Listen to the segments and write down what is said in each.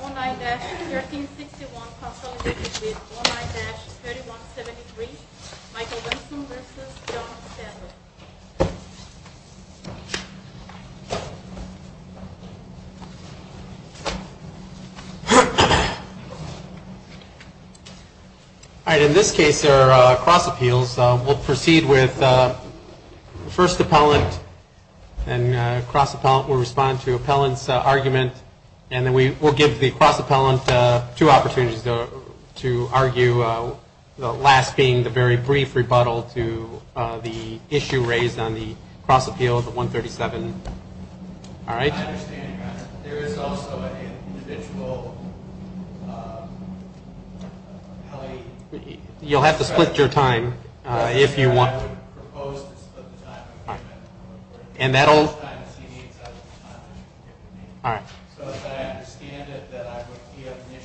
Online-3173 Michael Weston v. John Stafford In this case, there are cross-appeals. We'll proceed with first appellant and cross-appellant will respond to appellant's argument. We'll give the cross-appellant two opportunities to argue, the last being the very brief rebuttal to the issue raised on the cross-appeal of 137. There is also an individual You'll have to split your time if you want. We'll leave it at that. I think we've got two on each side. I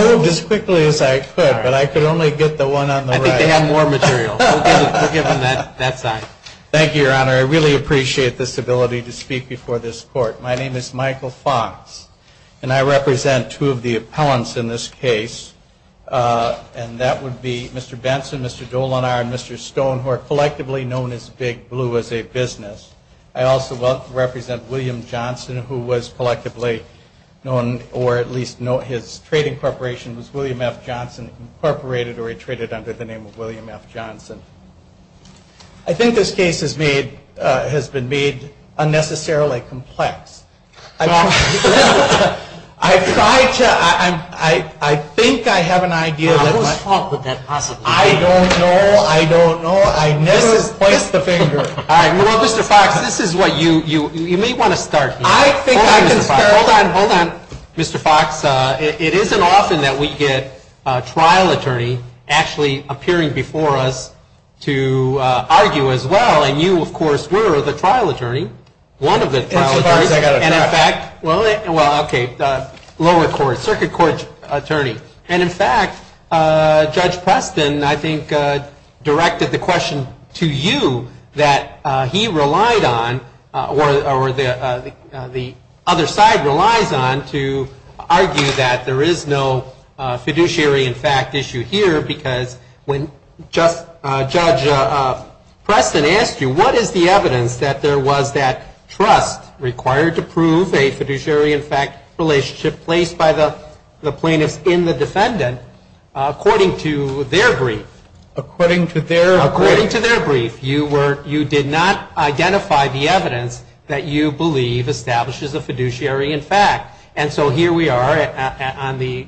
moved as quickly as I could, but I could only get the one on the right. Thank you, Your Honor. I really appreciate this ability to speak before this court. My name is Michael Fox, and I represent two of the appellants in this case. And that would be Mr. Benson, Mr. Dolinar, and Mr. Stone, who are collectively known as Big Blue as a business. I also represent William Johnson, who was collectively known, or at least his trading corporation was William F. Johnson, incorporated, or he traded under the name of William F. Johnson. I think this case has been made unnecessarily complex. I think I have an idea. I don't know. I don't know. I've never placed a finger. You may want to start. Mr. Fox, it isn't often that we get a trial attorney actually appearing before us to argue as well. And you, of course, were the trial attorney, one of the trial attorneys. Well, okay, lower court, circuit court attorney. And, in fact, Judge Preston, I think, directed the question to you that he relied on, or the other side relies on, to argue that there is no fiduciary, in fact, issue here, because when Judge Preston asked you what is the evidence that there was that trust required to prove a fiduciary, in fact, relationship placed by the plaintiff in the defendant, according to their brief. According to their brief. According to their brief. You did not identify the evidence that you believe establishes a fiduciary, in fact. And so here we are on the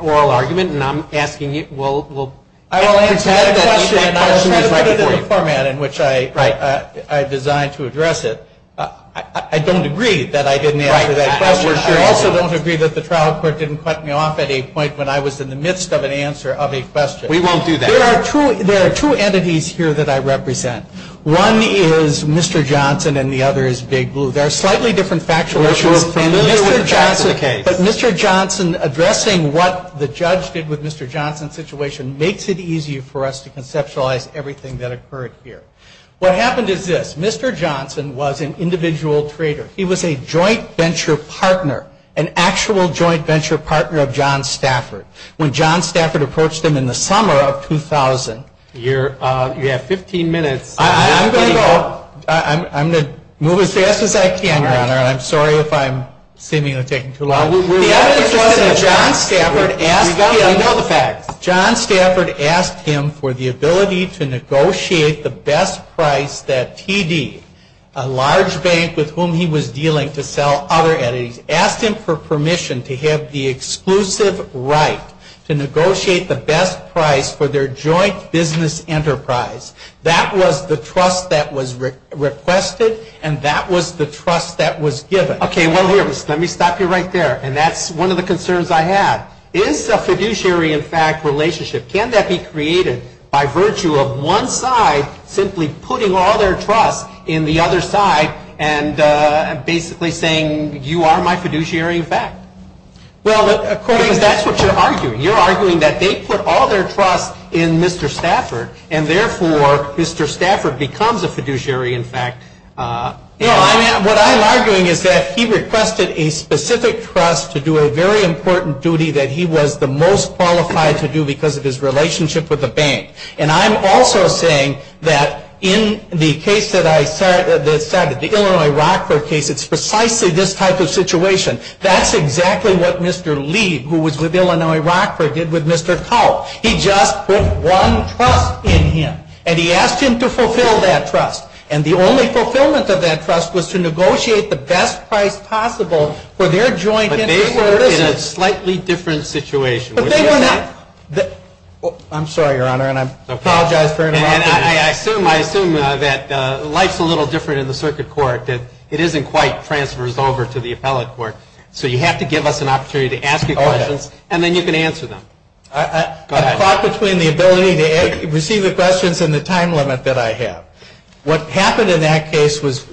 oral argument, and I'm asking you, we'll. I will answer the question in the format in which I designed to address it. I don't agree that I didn't answer that question. I also don't agree that the trial court didn't cut me off at a point when I was in the midst of an answer of a question. We won't do that. There are two entities here that I represent. One is Mr. Johnson, and the other is Big Blue. They're slightly different factual issues. But Mr. Johnson addressing what the judge did with Mr. Johnson's situation makes it easier for us to conceptualize everything that occurred here. What happened is this. Mr. Johnson was an individual trader. He was a joint venture partner, an actual joint venture partner of John Stafford. When John Stafford approached him in the summer of 2000. You have 15 minutes. I'm going to move as fast as I can. I'm sorry if I'm seemingly taking too long. John Stafford asked him for the ability to negotiate the best price that he needed. A large bank with whom he was dealing to sell other entities. Asked him for permission to have the exclusive right to negotiate the best price for their joint business enterprise. That was the trust that was requested, and that was the trust that was given. Okay, wait a minute. Let me stop you right there. And that's one of the concerns I have. It's a fiduciary-in-fact relationship. Can that be created by virtue of one side simply putting all their trust in the other side and basically saying, you are my fiduciary-in-fact? Well, according to that's what you're arguing. You're arguing that they put all their trust in Mr. Stafford, and therefore Mr. Stafford becomes a fiduciary-in-fact. What I'm arguing is that he requested a specific trust to do a very important duty that he was the most qualified to do because of his relationship with the bank. And I'm also saying that in the case that I started, the Illinois Rockler case, it's precisely this type of situation. That's exactly what Mr. Lee, who was with Illinois Rockler, did with Mr. Tull. He just put one trust in him, and he asked him to fulfill that trust. And the only fulfillment of that trust was to negotiate the best price possible for their joint enterprise. But they were in a slightly different situation. But they were not. I'm sorry, Your Honor, and I apologize for interrupting. I assume that life's a little different in the circuit court, that it isn't quite transfers over to the appellate court. So you have to give us an opportunity to ask you questions, and then you can answer them. I thought between the ability to receive the questions and the time limit that I have. What happened in that case was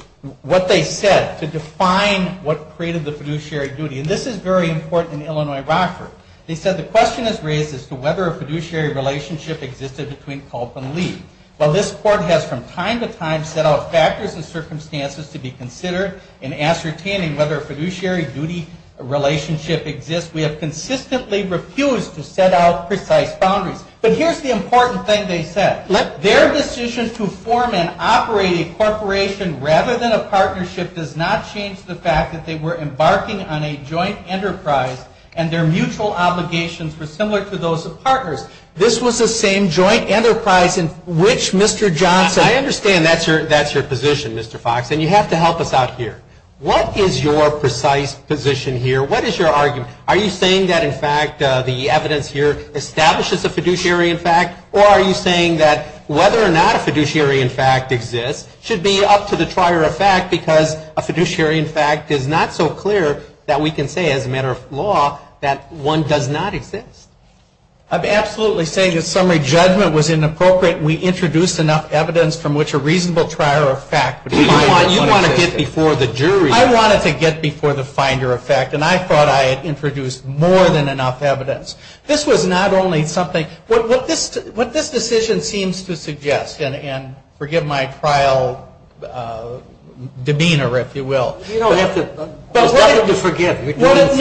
what they said to define what created the fiduciary duty. And this is very important in Illinois Rockler. They said the question is raised as to whether a fiduciary relationship existed between Tull and Lee. While this court has from time to time set out factors and circumstances to be considered in ascertaining whether a fiduciary duty relationship exists, we have consistently refused to set out precise boundaries. But here's the important thing they said. Their decision to form and operate a corporation rather than a partnership does not change the fact that they were embarking on a joint enterprise and their mutual obligations were similar to those of partners. This was the same joint enterprise in which Mr. Johnson... I understand that's your position, Mr. Fox, and you have to help us out here. What is your precise position here? What is your argument? Are you saying that, in fact, the evidence here establishes a fiduciary effect, or are you saying that whether or not a fiduciary effect exists should be up to the prior effect because a fiduciary effect is not so clear that we can say as a matter of law that one does not exist? I'm absolutely saying the summary judgment was inappropriate. We introduced enough evidence from which a reasonable prior effect... You want to get before the jury. I wanted to get before the finder of fact, and I thought I had introduced more than enough evidence. This was not only something... What this decision seems to suggest, and forgive my trial demeanor, if you will... You don't have to forgive. What it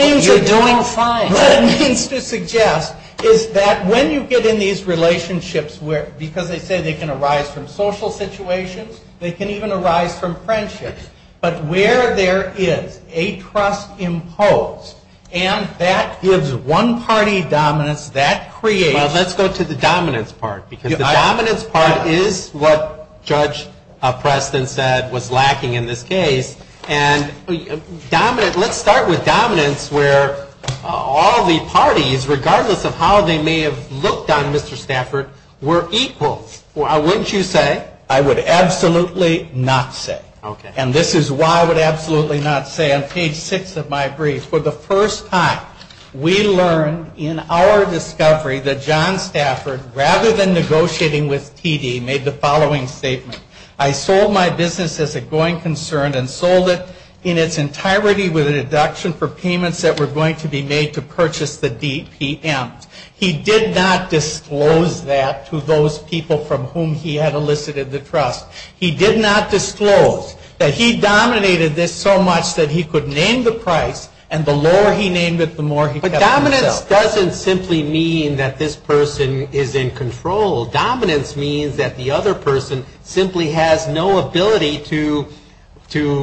means to suggest is that when you get in these relationships, because they say they can arise from social situations, they can even arise from friendships, but where there is a trust imposed and that gives one party dominance, that creates... Well, let's go to the dominance part because the dominance part is what Judge Preston said was lacking in this case, and let's start with dominance where all the parties, regardless of how they may have looked on Mr. Stafford, were equal. Wouldn't you say? I would absolutely not say. Okay. And this is why I would absolutely not say on page six of my brief. For the first time, we learned in our discovery that John Stafford, rather than negotiating with PD, made the following statement. I sold my business as a growing concern and sold it in its entirety with a deduction for payments that were going to be made to purchase the DPM. He did not disclose that to those people from whom he had elicited the trust. He did not disclose that he dominated this so much that he could name the price, and the lower he named it, the more he got... But dominance doesn't simply mean that this person is in control. Dominance means that the other person simply has no ability to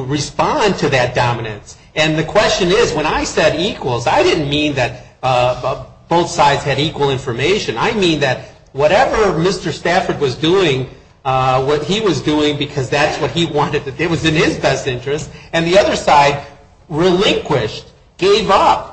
respond to that dominance, and the question is, when I said equals, I didn't mean that both sides had equal information. I mean that whatever Mr. Stafford was doing, what he was doing because that's what he wanted to do, it was in his best interest, and the other side relinquished, gave up,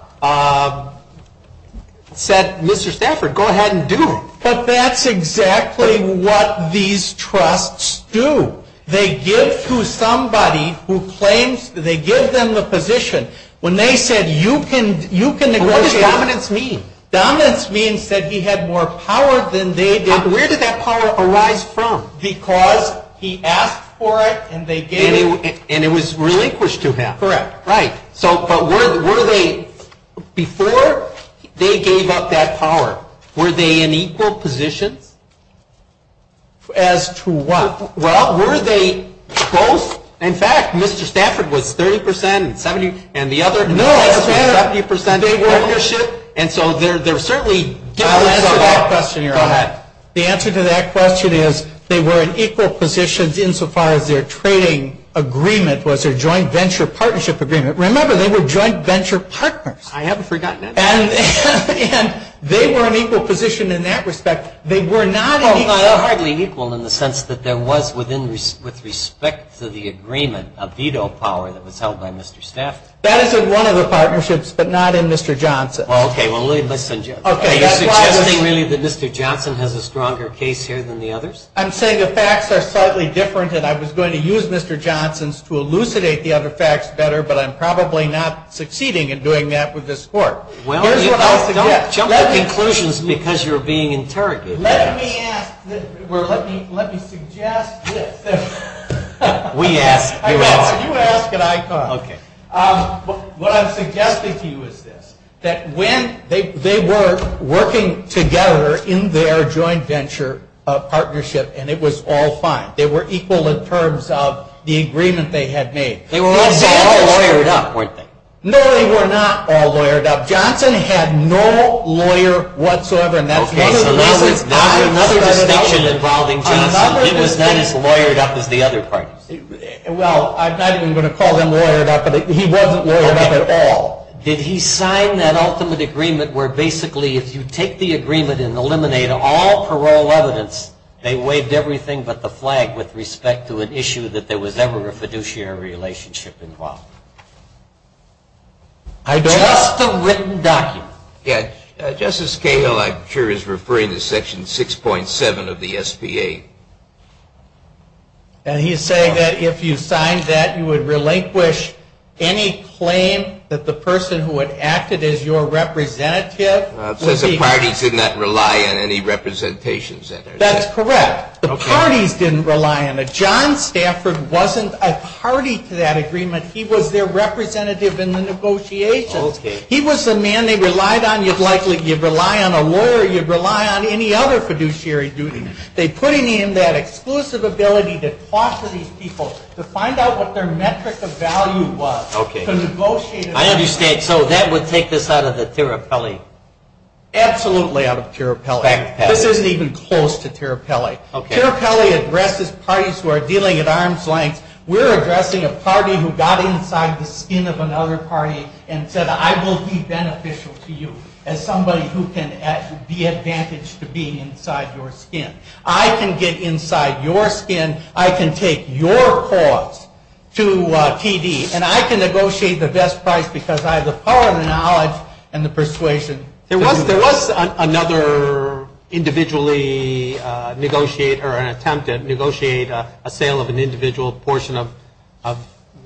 said, Mr. Stafford, go ahead and do it. But that's exactly what these trusts do. They give to somebody who claims... They give them the position. When they said, you can negotiate... What does dominance mean? Dominance means that he had more power than they did. Where did that power arise from? Because he asked for it, and they gave it... And it was relinquished to him. Correct. Right. But were they... Before they gave up that power, were they in equal position? As to what? Well, were they both? In fact, Mr. Stafford was 30% and 70% and the other... No. And so they're certainly... Go ahead. The answer to that question is they were in equal positions insofar as their trading agreement was their joint venture partnership agreement. Remember, they were joint venture partners. I haven't forgotten that. And they were in equal position in that respect. They were not equally equal in the sense that there was, with respect to the agreement, a veto power that was held by Mr. Stafford. That is in one of the partnerships, but not in Mr. Johnson's. Okay. Well, let me suggest... Okay. Do you have any reason that Mr. Johnson has a stronger case here than the others? I'm saying the facts are slightly different, and I was going to use Mr. Johnson's to elucidate the other facts better, but I'm probably not succeeding in doing that with this court. Here's what I suggest. Well, don't jump to conclusions because you're being interrogated. Let me ask... Well, let me suggest this. We ask, you ask. You ask and I talk. Okay. What I'm suggesting to you is this, that when they were working together in their joint venture partnership and it was all fine, they were equal in terms of the agreement they had made. They were all lawyered up, weren't they? No, they were not all lawyered up. Johnson had no lawyer whatsoever in that case. He was not as lawyered up as the other parties. Well, I wasn't going to call him lawyered up, but he wasn't lawyered up at all. Did he sign that ultimate agreement where basically if you take the agreement and eliminate all parole evidence, they waived everything but the flag with respect to an issue that there was ever a fiduciary relationship involved? I don't know. It's just a written document. Yeah. Justice Kagan, I'm sure, is referring to Section 6.7 of the SBA. And he's saying that if you signed that, you would relinquish any claim that the person who had acted as your representative. It says the parties did not rely on any representations. That is correct. The parties didn't rely on it. John Stafford wasn't a party to that agreement. He was their representative in the negotiations. He was the man they relied on. You'd likely rely on a lawyer or you'd rely on any other fiduciary duty. They put him in that exclusive ability to talk to these people, to find out what their metric of value was. Okay. I understand. So that would take this out of the Terrapelli? Absolutely out of Terrapelli. This isn't even close to Terrapelli. Terrapelli addresses parties who are dealing at arm's length. We're addressing a party who got inside the skin of another party and said, I will be beneficial to you as somebody who can be advantaged for being inside your skin. I can get inside your skin. I can take your cause to TD, and I can negotiate the best price because I have the power, the knowledge, and the persuasion. There was another individually negotiated or an attempt to negotiate a sale of an individual portion of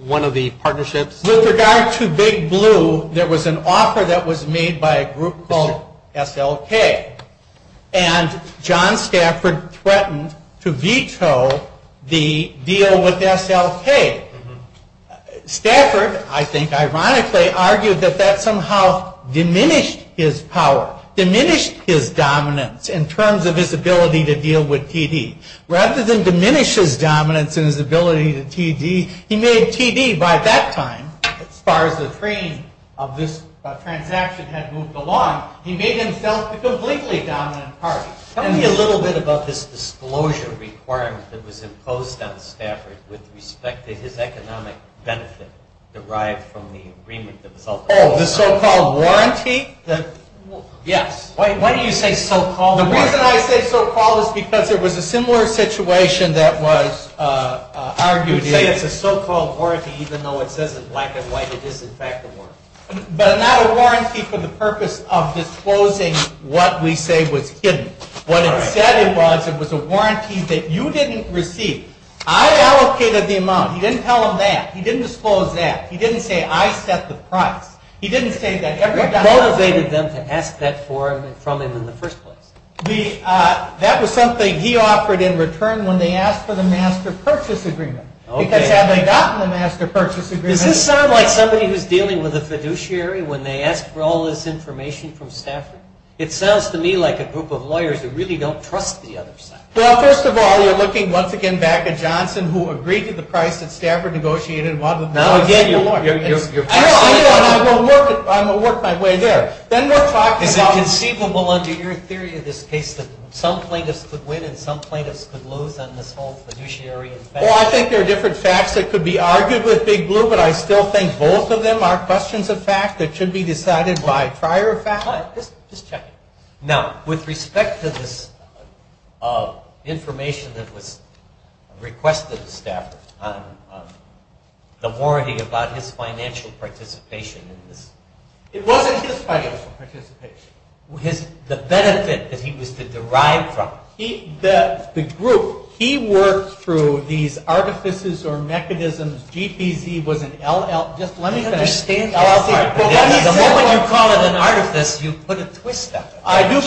one of the partnerships. With regard to Big Blue, there was an offer that was made by a group called SLK, and John Stafford threatened to veto the deal with SLK. Stafford, I think ironically, argued that that somehow diminished his power, diminished his dominance in terms of his ability to deal with TD. Rather than diminish his dominance and his ability to TD, he made TD. By that time, as far as the frame of this transaction had moved along, he made himself a completely dominant party. Tell me a little bit about this disclosure requirement that was imposed on Stafford with respect to his economic benefit derived from the agreement that was held. Oh, the so-called warranty? Yes. Why do you say so-called? Well, the reason I say so-called is because there was a similar situation that was argued. You say it's a so-called warranty even though it says it's black and white. It is, in fact, a warranty. But not a warranty for the purpose of disclosing what we say was hidden. What it said was it was a warranty that you didn't receive. I allocated the amount. He didn't tell them that. He didn't disclose that. He didn't say I set the price. He didn't say that. What motivated them to ask that for him and from him in the first place? That was something he offered in return when they asked for the master purchase agreement. Okay. Because they hadn't gotten the master purchase agreement. Does this sound like somebody who's dealing with a fiduciary when they ask for all this information from Stafford? It sounds to me like a group of lawyers who really don't trust the other side. Well, first of all, you're looking once again back at Johnson who agreed to the price that Stafford negotiated I'm going to work my way there. Is it conceivable under your theory of this case that some plaintiffs could win and some plaintiffs could lose on this whole fiduciary affair? Well, I think there are different facts that could be argued with Big Blue, but I still think both of them are questions of fact that should be decided by prior fact. Just check it. Now, with respect to this information that was requested to Stafford, the warranty about his financial participation in this. It wasn't his financial participation. The benefit that he was to derive from it. The group, he worked through these artifices or mechanisms. Just let me finish. The moment you call it an artifice, you put a twist on it. I do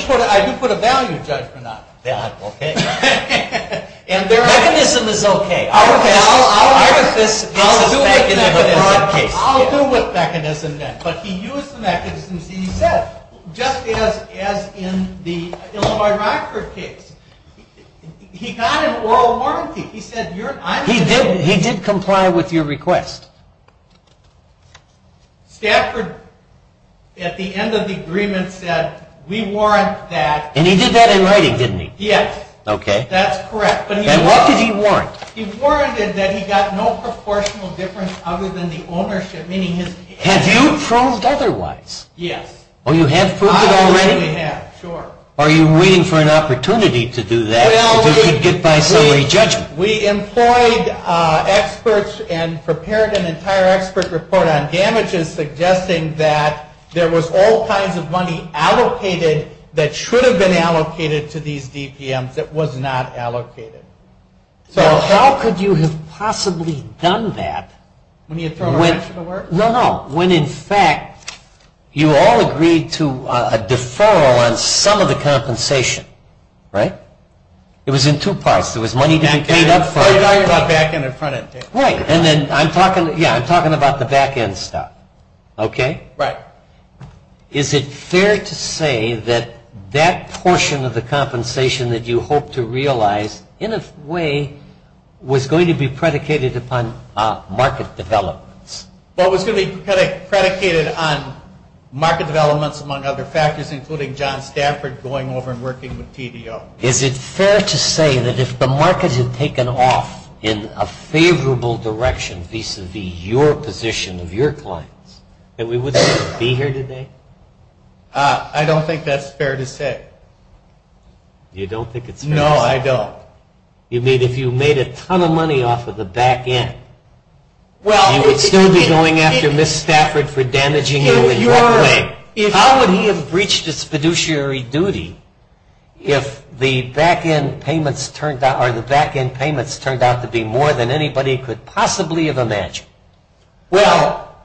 put a value judgment on it. And their mechanism is okay. I'll go with mechanism then. But he used the mechanism. He said, just as in the Illinois Rockford case, he got an oral warranty. He did comply with your request. Stafford, at the end of the agreement, said, we warrant that. And he did that in writing, didn't he? Yes. Okay. That's correct. And what did he warrant? He warranted that he got no proportional difference other than the ownership. Have you proved otherwise? Yes. Oh, you have proved it already? I already have, sure. Are you waiting for an opportunity to do that? We employed experts and prepared an entire expert report on damages, suggesting that there was all kinds of money allocated that should have been allocated to these DPMs that was not allocated. How could you have possibly done that? No, no. When, in fact, you all agreed to a deferral on some of the compensation, right? It was in two parts. There was money being paid up for it. I'm talking about back-end and front-end. Right. And then I'm talking about the back-end stuff, okay? Right. Is it fair to say that that portion of the compensation that you hoped to realize, in a way, was going to be predicated upon market developments? Well, it was going to be predicated on market developments, among other factors, including John Stafford going over and working with PDO. Is it fair to say that if the market had taken off in a favorable direction vis-a-vis your position of your clients that we wouldn't be here today? I don't think that's fair to say. You don't think it's fair to say? No, I don't. You mean if you made a ton of money off of the back-end? You would still be going after Mr. Stafford for damaging him in your way. How would he have breached his fiduciary duty if the back-end payments turned out to be more than anybody could possibly imagine? Well,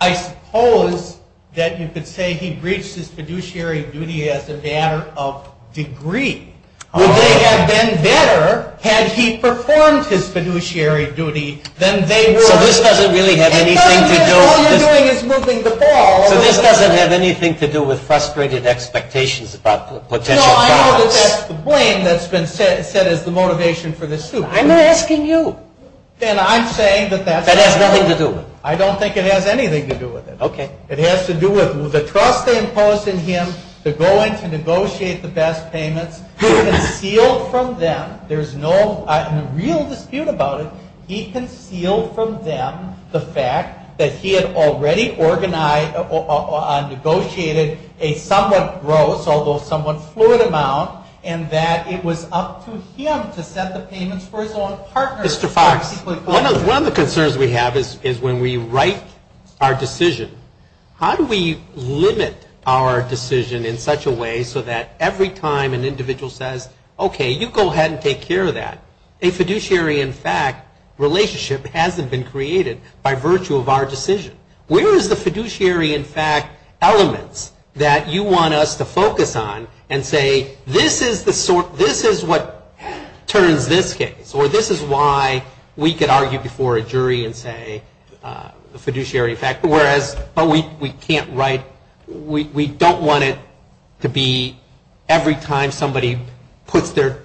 I suppose that you could say he breached his fiduciary duty as a matter of degree. Would they have been better had he performed his fiduciary duty than they were? This doesn't really have anything to do with— All you're doing is moving the ball. But this doesn't have anything to do with frustrated expectations about the potential— No, I know that that's the blame that's been set as the motivation for this suit. I'm not asking you. Then I'm saying that that has nothing to do with it. I don't think it has anything to do with it. Okay. It has to do with the trust they imposed in him to go in to negotiate the best payments. He concealed from them—there's no real dispute about it— he concealed from them the fact that he had already negotiated a somewhat gross, although somewhat fluid amount, and that it was up to him to set the payments for his own partner. Mr. Fox, one of the concerns we have is when we write our decision, how do we limit our decision in such a way so that every time an individual says, okay, you go ahead and take care of that, a fiduciary, in fact, relationship hasn't been created by virtue of our decision? Where is the fiduciary, in fact, element that you want us to focus on and say this is what turned this case, or this is why we could argue before a jury and say a fiduciary, in fact, whereas we can't write—we don't want it to be every time somebody puts their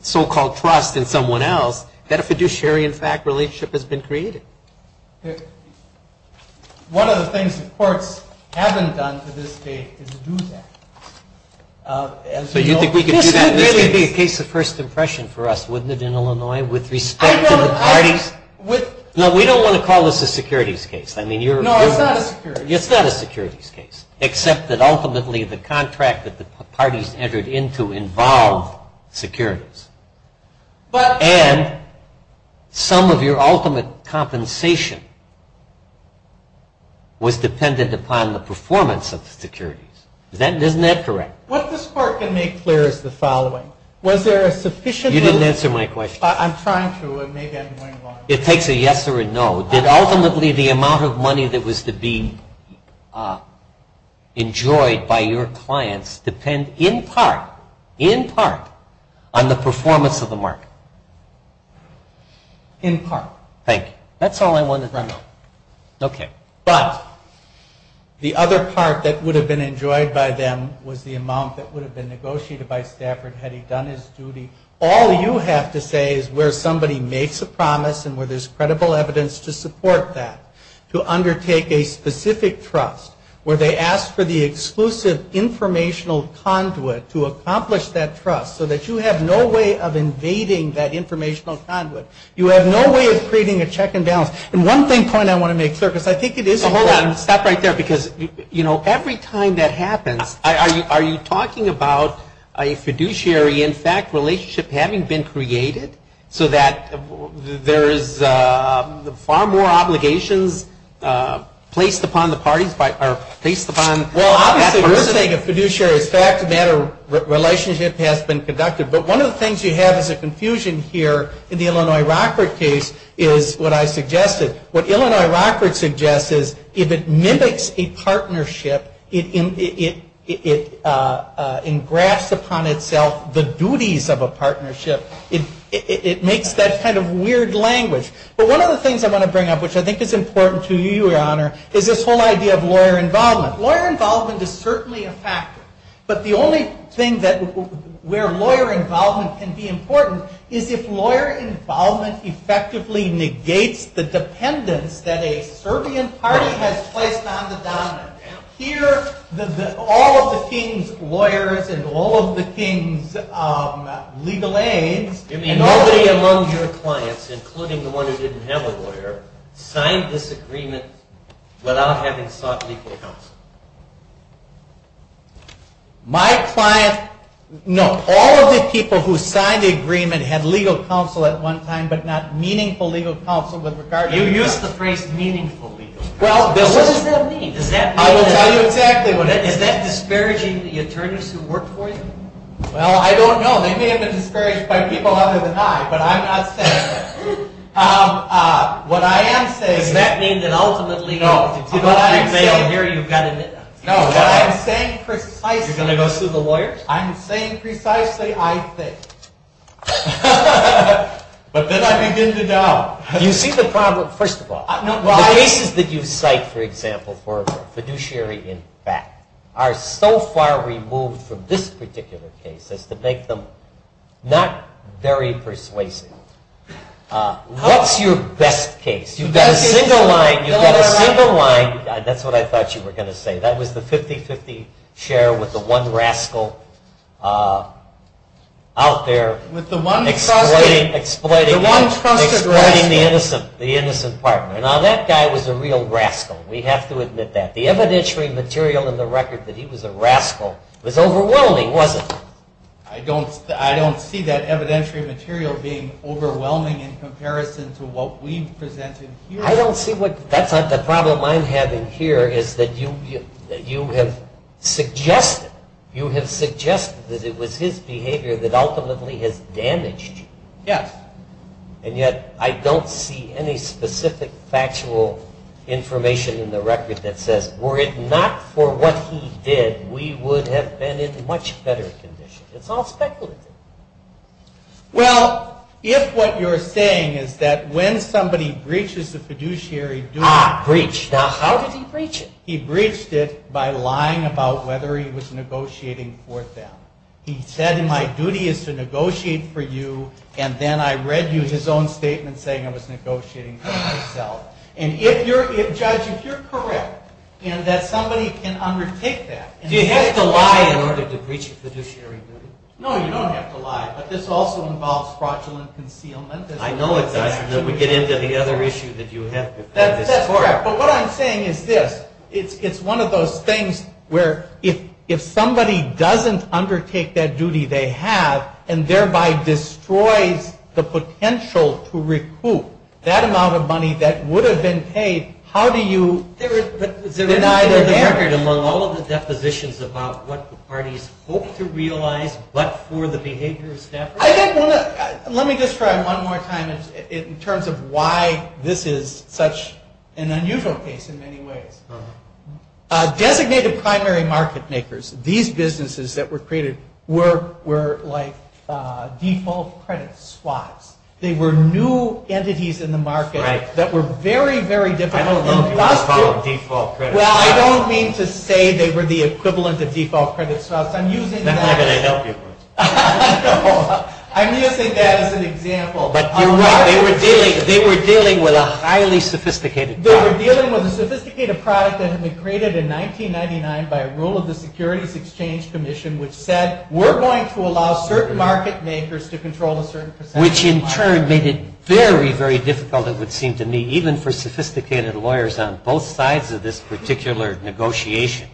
so-called trust in someone else that a fiduciary, in fact, relationship has been created. One of the things the courts haven't done to this day is to do that. So you think we could do that? This would be a case of first impression for us, wouldn't it, in Illinois, with respect to the parties? No, we don't want to call this a securities case. No, it's not a securities case. It's not a securities case, except that ultimately the contract that the parties entered into involved securities. And some of your ultimate compensation was dependent upon the performance of the securities. Isn't that correct? What this court can make clear is the following. Was there a sufficient— You didn't answer my question. I'm trying to, and maybe I'm going wild. It takes a yes or a no. That ultimately the amount of money that was to be enjoyed by your clients depends in part, in part, on the performance of the market. In part. Thank you. That's all I wanted to know. Okay. But the other part that would have been enjoyed by them was the amount that would have been negotiated by Stafford had he done his duty. All you have to say is where somebody makes a promise and where there's credible evidence to support that, to undertake a specific trust, where they ask for the exclusive informational conduit to accomplish that trust, so that you have no way of invading that informational conduit. You have no way of creating a check and balance. And one thing, point I want to make, sir, because I think it is— Hold on. Stop right there because, you know, every time that happens, are you talking about a fiduciary, in fact, relationship having been created so that there is far more obligations placed upon the parties, placed upon— Well, I'm not suggesting a fiduciary. In fact, that relationship has been conducted. But one of the things you have is a confusion here in the Illinois Rockford case is what I suggested. What Illinois Rockford suggests is if it mimics a partnership, it engrafts upon itself the duties of a partnership. It makes that kind of weird language. But one of the things I'm going to bring up, which I think is important to you, Your Honor, is this whole idea of lawyer involvement. Lawyer involvement is certainly a factor. But the only thing where lawyer involvement can be important is if lawyer involvement effectively negates the dependence that a servant party has placed on the dominant. Here, all of the king's lawyers and all of the king's legal aid— All of the people who signed the agreement had legal counsel at one time, but not meaningful legal counsel. You used the phrase meaningful legal counsel. Well, what does that mean? Is that disparaging the attorneys who work for you? Well, I don't know. They may have been disparaged by people other than I, but I'm not saying that. What I am saying— That means that ultimately— No, what I'm saying here is that— No, what I'm saying precisely— You're going to go through the lawyers? I'm saying precisely, I think. But then I begin to doubt. You see the problem, first of all. The reasons that you cite, for example, for fiduciary impact are so far removed from this particular case as to make them not very persuasive. What's your best case? You've got a single line. That's what I thought you were going to say. That was the 50-50 share with the one rascal out there exploiting the innocent partner. Now, that guy was a real rascal. We have to admit that. The evidentiary material in the record that he was a rascal was overwhelming, wasn't it? I don't see that evidentiary material being overwhelming in comparison to what we've presented here. I don't see what— That's not the problem I'm having here, is that you have suggested that it was his behavior that ultimately has damaged you. Yes. And yet I don't see any specific factual information in the record that says, were it not for what he did, we would have been in much better conditions. It's all speculative. Well, if what you're saying is that when somebody breaches the fiduciary— Breached. Now, how did he breach it? He breached it by lying about whether he was negotiating for them. He said, my duty is to negotiate for you, and then I read you his own statement saying I was negotiating for myself. Judge, if you're correct in that somebody can undertake that— You have to lie in order to breach a fiduciary duty. No, you don't have to lie, but this also involves fraudulent concealment. I know it does, and then we get into the other issue that you have presented. That's correct, but what I'm saying is this. It's one of those things where if somebody doesn't undertake that duty they have, and thereby destroys the potential to recoup that amount of money that would have been paid, how do you— There is evidence in all of the depositions about what the parties hoped to realize, but for the behavior of staff— Let me just try one more time in terms of why this is such an unusual case in many ways. Designated primary market makers, these businesses that were created were like default credit swaps. They were new entities in the market that were very, very difficult— I don't mean to call them default credit swaps. Well, I don't mean to say they were the equivalent of default credit swaps. I'm using that as an example. They were dealing with a highly sophisticated product. They were dealing with a sophisticated product that had been created in 1999 by a rule of the Securities Exchange Commission which said, we're going to allow certain market makers to control a certain percentage of the market. Which in turn made it very, very difficult, it would seem to me, even for sophisticated lawyers on both sides of this particular negotiation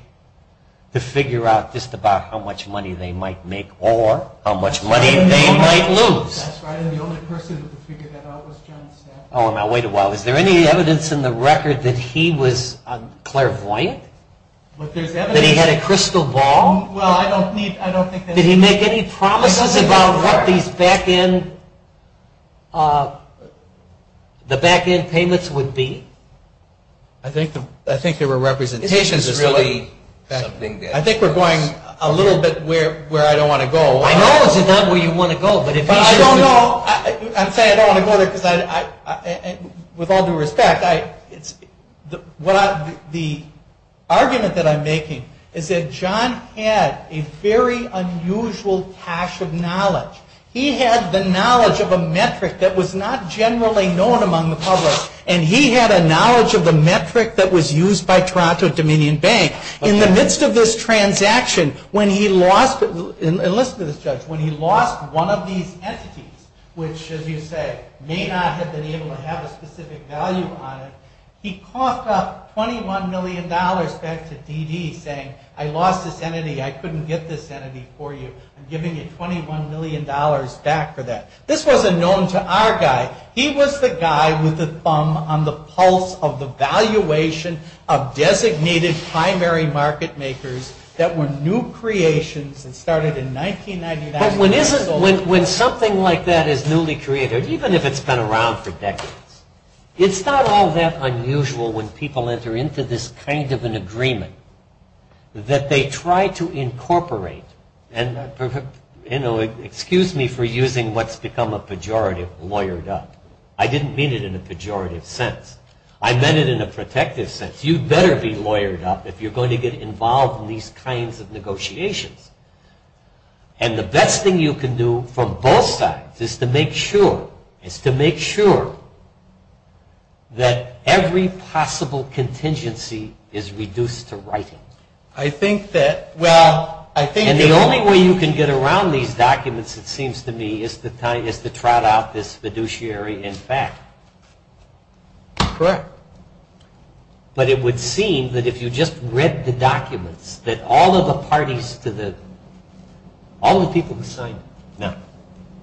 to figure out just about how much money they might make or how much money they might lose. That's right, and the only person who could figure that out was John Smith. Oh, now, wait a while. Was there any evidence in the record that he was clairvoyant? That he had a crystal ball? Did he make any promises about what these back-end payments would be? I think there were representations. I think we're going a little bit where I don't want to go. I know it's not where you want to go. I don't know. I'm saying I don't want to go there because with all due respect, the argument that I'm making is that John had a very unusual cache of knowledge. He had the knowledge of a metric that was not generally known among the public, and he had a knowledge of the metric that was used by Toronto Dominion Bank. In the midst of this transaction, when he lost, when he lost one of these entities, which, as you say, may not have been able to have a specific value on it, he coughed up $21 million back to D.D. saying, I lost this entity, I couldn't get this entity for you. I'm giving you $21 million back for that. This wasn't known to our guy. He was the guy with the thumb on the pulse of the valuation of designated primary market makers that were new creations and started in 1999. When something like that is newly created, even if it's been around for decades, it's not all that unusual when people enter into this kind of an agreement that they try to incorporate and, you know, excuse me for using what's become a pejorative, lawyered up. I didn't mean it in a pejorative sense. I meant it in a protective sense. You better be lawyered up if you're going to get involved in these kinds of negotiations. And the best thing you can do for both sides is to make sure, is to make sure that every possible contingency is reduced to writing. I think that, well, I think... And the only way you can get around these documents, it seems to me, is to trot out this fiduciary in fact. Trot. But it would seem that if you just read the documents, that all of the parties to the... All the people who signed... No.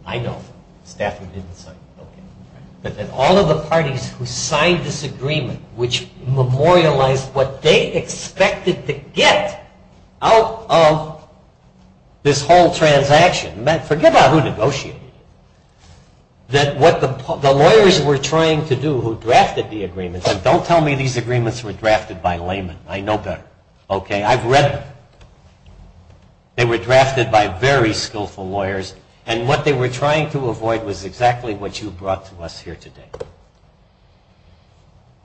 I don't. Staffers didn't sign. Okay. But that all of the parties who signed this agreement, which memorialized what they expected to get out of this whole transaction. In fact, forget about who negotiated. That what the lawyers were trying to do, who drafted the agreement, and don't tell me these agreements were drafted by laymen. I know better. Okay. I've read them. They were drafted by very skillful lawyers, and what they were trying to avoid was exactly what you brought to us here today.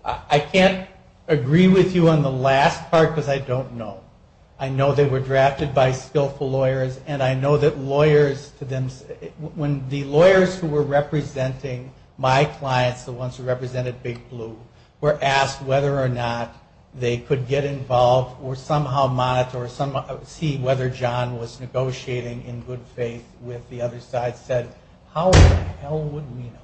I can't agree with you on the last part because I don't know. I know they were drafted by skillful lawyers, and I know that lawyers to them... When the lawyers who were representing my clients, the ones who represented Big Blue, were asked whether or not they could get involved or somehow monitor or see whether John was negotiating in good faith with the other side, I said, how the hell would we know?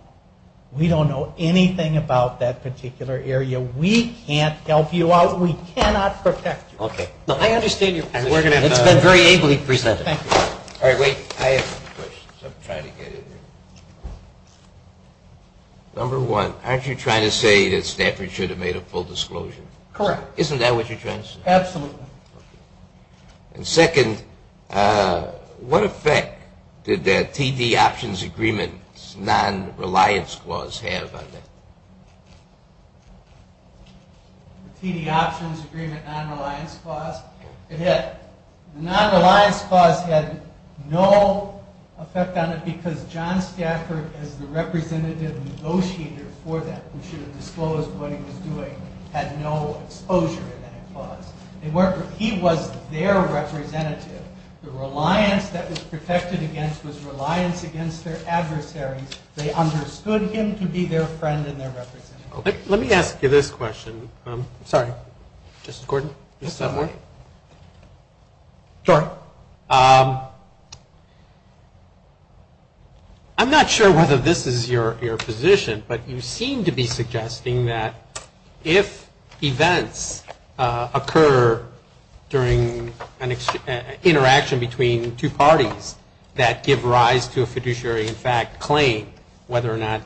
We don't know anything about that particular area. We can't help you out. We cannot protect you. Okay. I understand your point. It's been very ably presented. Thank you. All right. Wait. I have a question. Number one, aren't you trying to say that Stafford should have made a full disclosure? Correct. Isn't that what you're trying to say? Absolutely. And second, what effect did the TD Options Agreement non-reliance clause have on that? The TD Options Agreement non-reliance clause? It did. The non-reliance clause had no effect on it because John Stafford, as the representative negotiator for them, who should have disclosed what he was doing, had no exposure to that clause. He was their representative. The reliance that was protected against was reliance against their adversary. They understood him to be their friend and their representative. Let me ask you this question. Sorry. Justice Gordon, is that working? Sure. I'm not sure whether this is your position, but you seem to be suggesting that if events occur during an interaction between two parties that give rise to a fiduciary, in fact, claim, whether or not,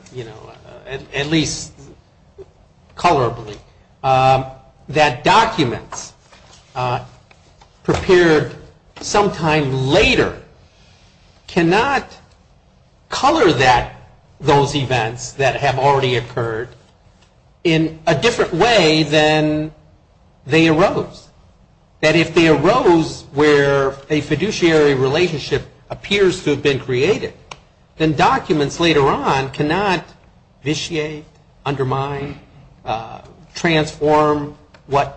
at least colorably, that documents prepared sometime later cannot color those events that have already occurred in a different way than they arose. That if they arose where a fiduciary relationship appears to have been created, then documents later on cannot vitiate, undermine, transform the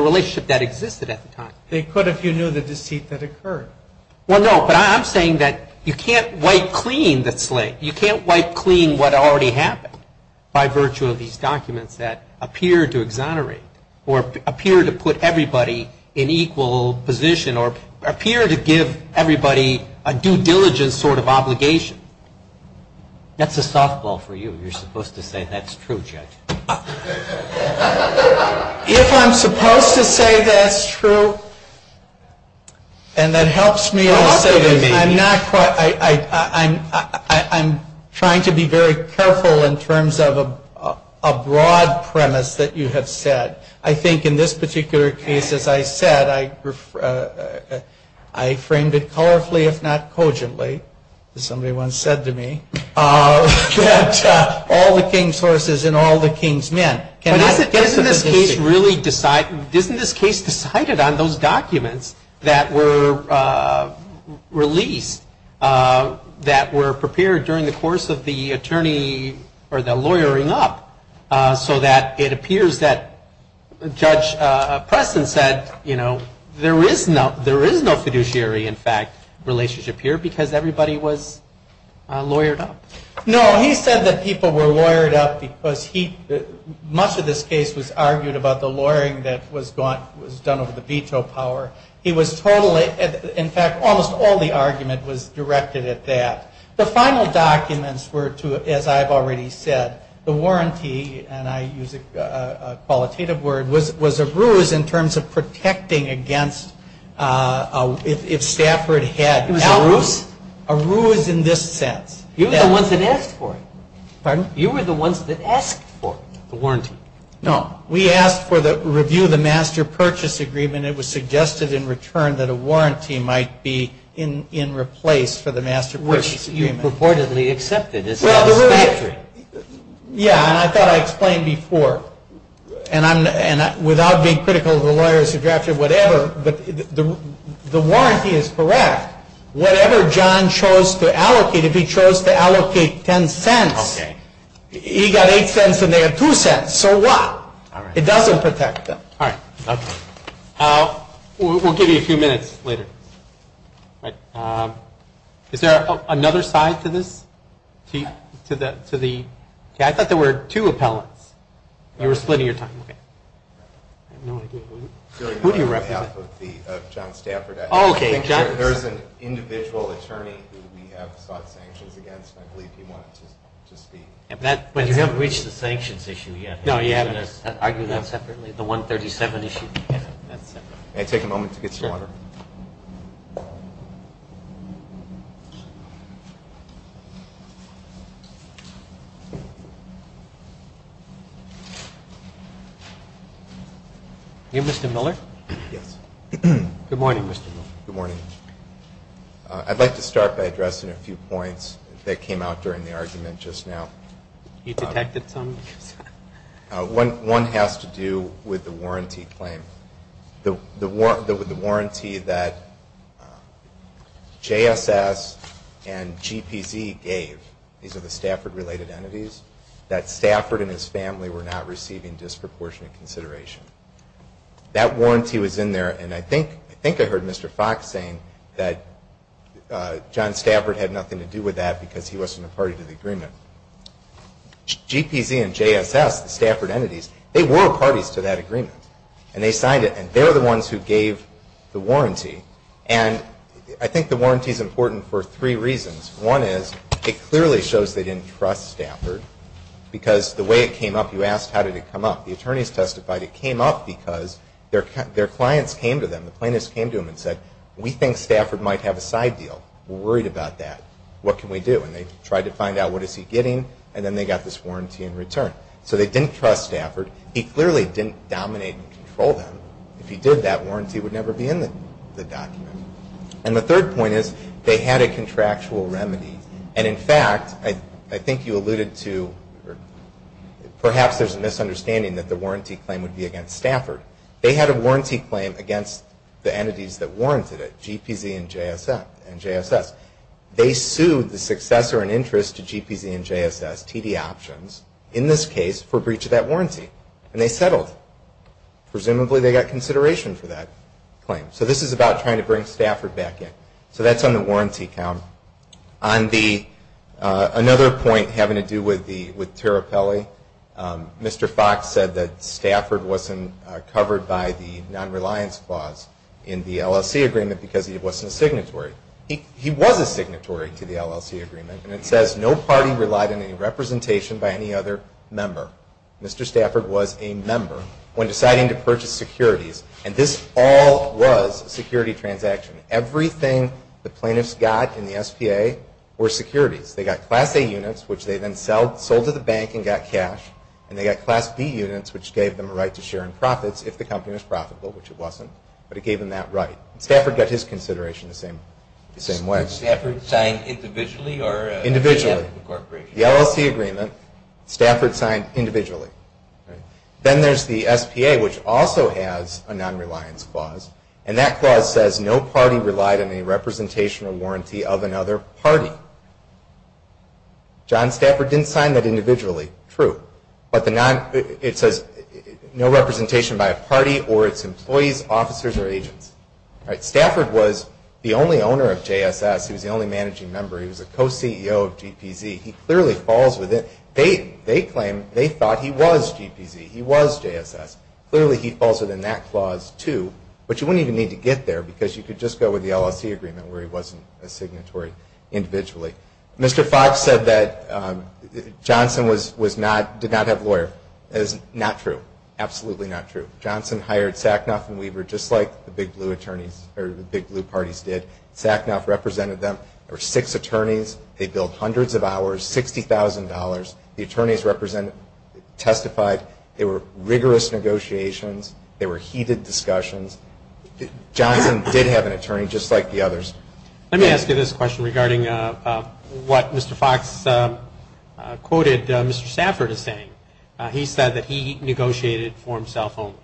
relationship that existed at the time. They could if you knew the deceit that occurred. Well, no, but I'm saying that you can't wipe clean the slate. You can't wipe clean what already happened by virtue of these documents that appear to exonerate or appear to put everybody in equal position or appear to give everybody a due diligence sort of obligation. That's a softball for you. You're supposed to say that's true, Judge. If I'm supposed to say that's true, and that helps me, I'm trying to be very careful in terms of a broad premise that you have said. I think in this particular case, as I said, I framed it colorfully, if not cogently, as somebody once said to me, all the king's horses and all the king's men. But isn't this case really decided on those documents that were released, that were prepared during the course of the attorney or the lawyering up, so that it appears that Judge Preston said, you know, there is no fiduciary, in fact, relationship here because everybody was lawyered up. No, he said that people were lawyered up because he, much of this case was argued about the lawyering that was done over the veto power. He was totally, in fact, almost all the argument was directed at that. The final documents were to, as I've already said, the warranty, and I use a qualitative word, was a ruse in terms of protecting against, if Stafford had... It was a ruse? A ruse in this sense. You were the ones that asked for it. Pardon? You were the ones that asked for the warranty. No, we asked for the review of the Master Purchase Agreement. It was suggested in return that a warranty might be in replace for the Master Purchase Agreement. Which you purportedly accepted. Yeah, and I thought I explained before, and without being critical of the lawyer's address or whatever, but the warranty is correct. Whatever John chose to allocate, if he chose to allocate $0.10, he got $0.08 and they had $0.02. So what? It doesn't protect them. All right. We'll give you a few minutes later. Is there another side to this? I thought there were two appellants. You were splitting your time. Who do you represent? John Stafford. Oh, okay. There's an individual attorney who we have got sanctions against, and I believe he wanted to speak. But you haven't reached the sanctions issue yet. No, yeah. Argue that separately. The 137 issue. May I take a moment to get your order? Sure. Name, Mr. Miller? Yes. Good morning, Mr. Miller. Good morning. I'd like to start by addressing a few points that came out during the argument just now. You protected some? One has to do with the warranty claim. The warranty that JSS and GPZ gave, these are the Stafford-related entities, that Stafford and his family were not receiving disproportionate consideration. That warranty was in there, and I think I heard Mr. Fox saying that John Stafford had nothing to do with that because he wasn't a party to the agreement. GPZ and JSS, the Stafford entities, they were parties to that agreement, and they signed it, and they're the ones who gave the warranty. And I think the warranty is important for three reasons. One is it clearly shows they didn't trust Stafford because the way it came up, you asked how did it come up. The attorneys testified it came up because their clients came to them, the plaintiffs came to them and said, we think Stafford might have a side deal. We're worried about that. What can we do? And they tried to find out what is he getting, and then they got this warranty in return. So they didn't trust Stafford. He clearly didn't dominate and control them. If he did, that warranty would never be in the document. And the third point is they had a contractual remedy, and in fact, I think you alluded to, perhaps there's a misunderstanding that the warranty claim would be against Stafford. They had a warranty claim against the entities that warranted it, GPZ and JSS. They sued the successor in interest to GPZ and JSS, TD Options, in this case, for breach of that warranty. And they settled. Presumably they got consideration for that claim. So this is about trying to bring Stafford back in. So that's on the warranty count. On the, another point having to do with the, with Tarapelli, Mr. Fox said that Stafford wasn't covered by the nonreliance clause in the LLC agreement because he wasn't a signatory. He was a signatory to the LLC agreement, and it says, no party relied on any representation by any other member. Mr. Stafford was a member when deciding to purchase securities. And this all was a security transaction. Everything the plaintiffs got in the STA were securities. They got Class A units, which they then sold to the bank and got cash, and they got Class B units, which gave them a right to share in profits if the company was profitable, which it wasn't, but it gave them that right. Stafford got his consideration the same way. So was Stafford signed individually or? Individually. The LLC agreement, Stafford signed individually. Then there's the STA, which also has a nonreliance clause, and that clause says no party relied on any representation or warranty of another party. John? John Stafford didn't sign that individually. True. But it says no representation by a party or its employees, officers, or agents. All right. Stafford was the only owner of JSS. He was the only managing member. He was a co-CEO of GPZ. He clearly falls with it. They claim they thought he was GPZ. He was JSS. Clearly, he falls with the NAC clause, too. But you wouldn't even need to get there because you could just go with the LLC agreement where he wasn't a signatory individually. Mr. Fox said that Johnson did not have a lawyer. That is not true. Absolutely not true. Johnson hired Sacknoff and Weaver just like the Big Blue parties did. Sacknoff represented them. There were six attorneys. They billed hundreds of hours, $60,000. The attorneys testified. There were rigorous negotiations. There were heated discussions. Johnson did have an attorney just like the others. Let me ask you this question regarding what Mr. Fox quoted Mr. Stafford as saying. He said that he negotiated for himself only.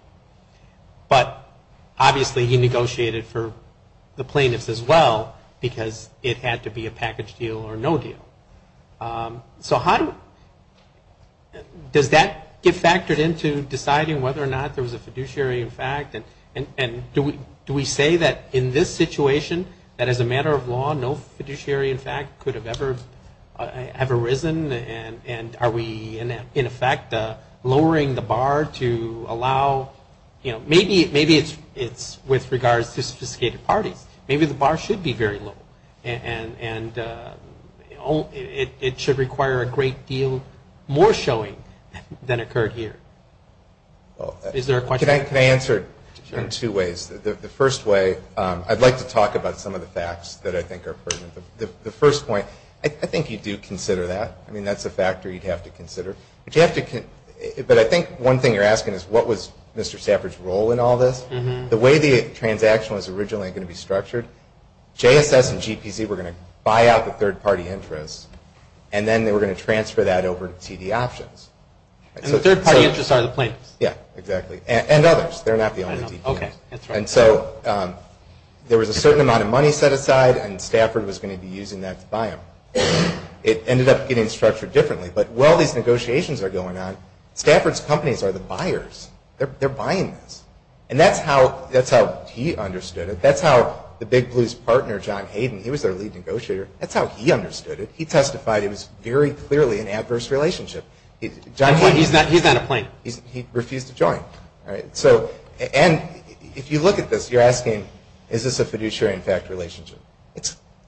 But obviously he negotiated for the plaintiffs as well because it had to be a package deal or no deal. So how does that get factored into deciding whether or not there was a fiduciary in fact? And do we say that in this situation, that as a matter of law, no fiduciary in fact could have ever arisen? And are we in effect lowering the bar to allow, you know, maybe it's with regards to sophisticated parties. Maybe the bar should be very low. And it should require a great deal more showing than occurred here. Is there a question? Can I answer in two ways? The first way, I'd like to talk about some of the facts that I think are pertinent. The first point, I think you do consider that. I mean that's a factor you'd have to consider. But I think one thing you're asking is what was Mr. Stafford's role in all this? Well, the way the transaction was originally going to be structured, JSS and GPC were going to buy out the third-party intros and then they were going to transfer that over to TD Options. And the third-party intros are the plaintiffs? Yeah, exactly. And others. They're not the only people. And so there was a certain amount of money set aside and Stafford was going to be using that to buy them. It ended up getting structured differently. But while these negotiations are going on, Stafford's companies are the buyers. They're buying this. And that's how he understood it. That's how the Big Blue's partner, John Hayden, he was their lead negotiator. That's how he understood it. He testified it was very clearly an adverse relationship. He's got a plaintiff. He refused to join. And if you look at this, you're asking is this a fiduciary in fact relationship?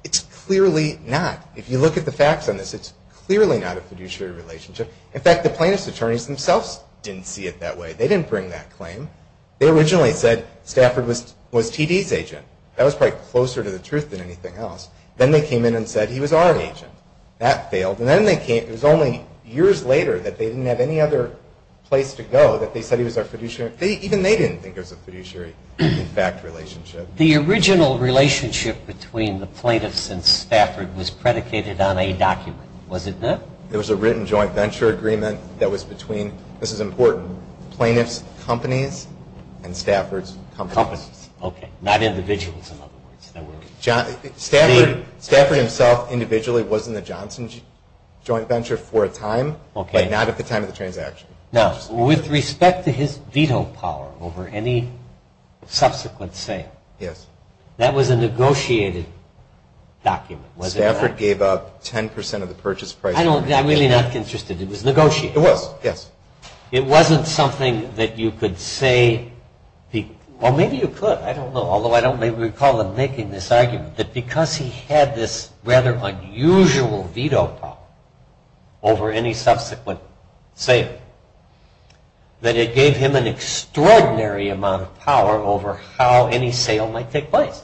It's clearly not. If you look at the facts on this, it's clearly not a fiduciary relationship. In fact, the plaintiff's attorneys themselves didn't see it that way. They didn't bring that claim. They originally said Stafford was TD's agent. That was probably closer to the truth than anything else. Then they came in and said he was our agent. That failed. And then they came, it was only years later that they didn't have any other place to go that they said he was our fiduciary. Even they didn't think it was a fiduciary in fact relationship. The original relationship between the plaintiffs and Stafford was predicated on a document. Was it not? There was a written joint venture agreement that was between, this is important, plaintiff's companies and Stafford's companies. Okay. Not individuals in other words. Stafford himself individually was in the Johnson Joint Venture for a time, but not at the time of the transaction. Now, with respect to his veto power over any subsequent sale, that was a negotiated document. Was it not? Stafford gave up 10% of the purchase price. I'm really not interested. It was negotiated. It was, yes. It wasn't something that you could say, well maybe you could, I don't know, although I don't recall him making this argument, that because he had this rather unusual veto power over any subsequent sale, that it gave him an extraordinary amount of power over how any sale might take place.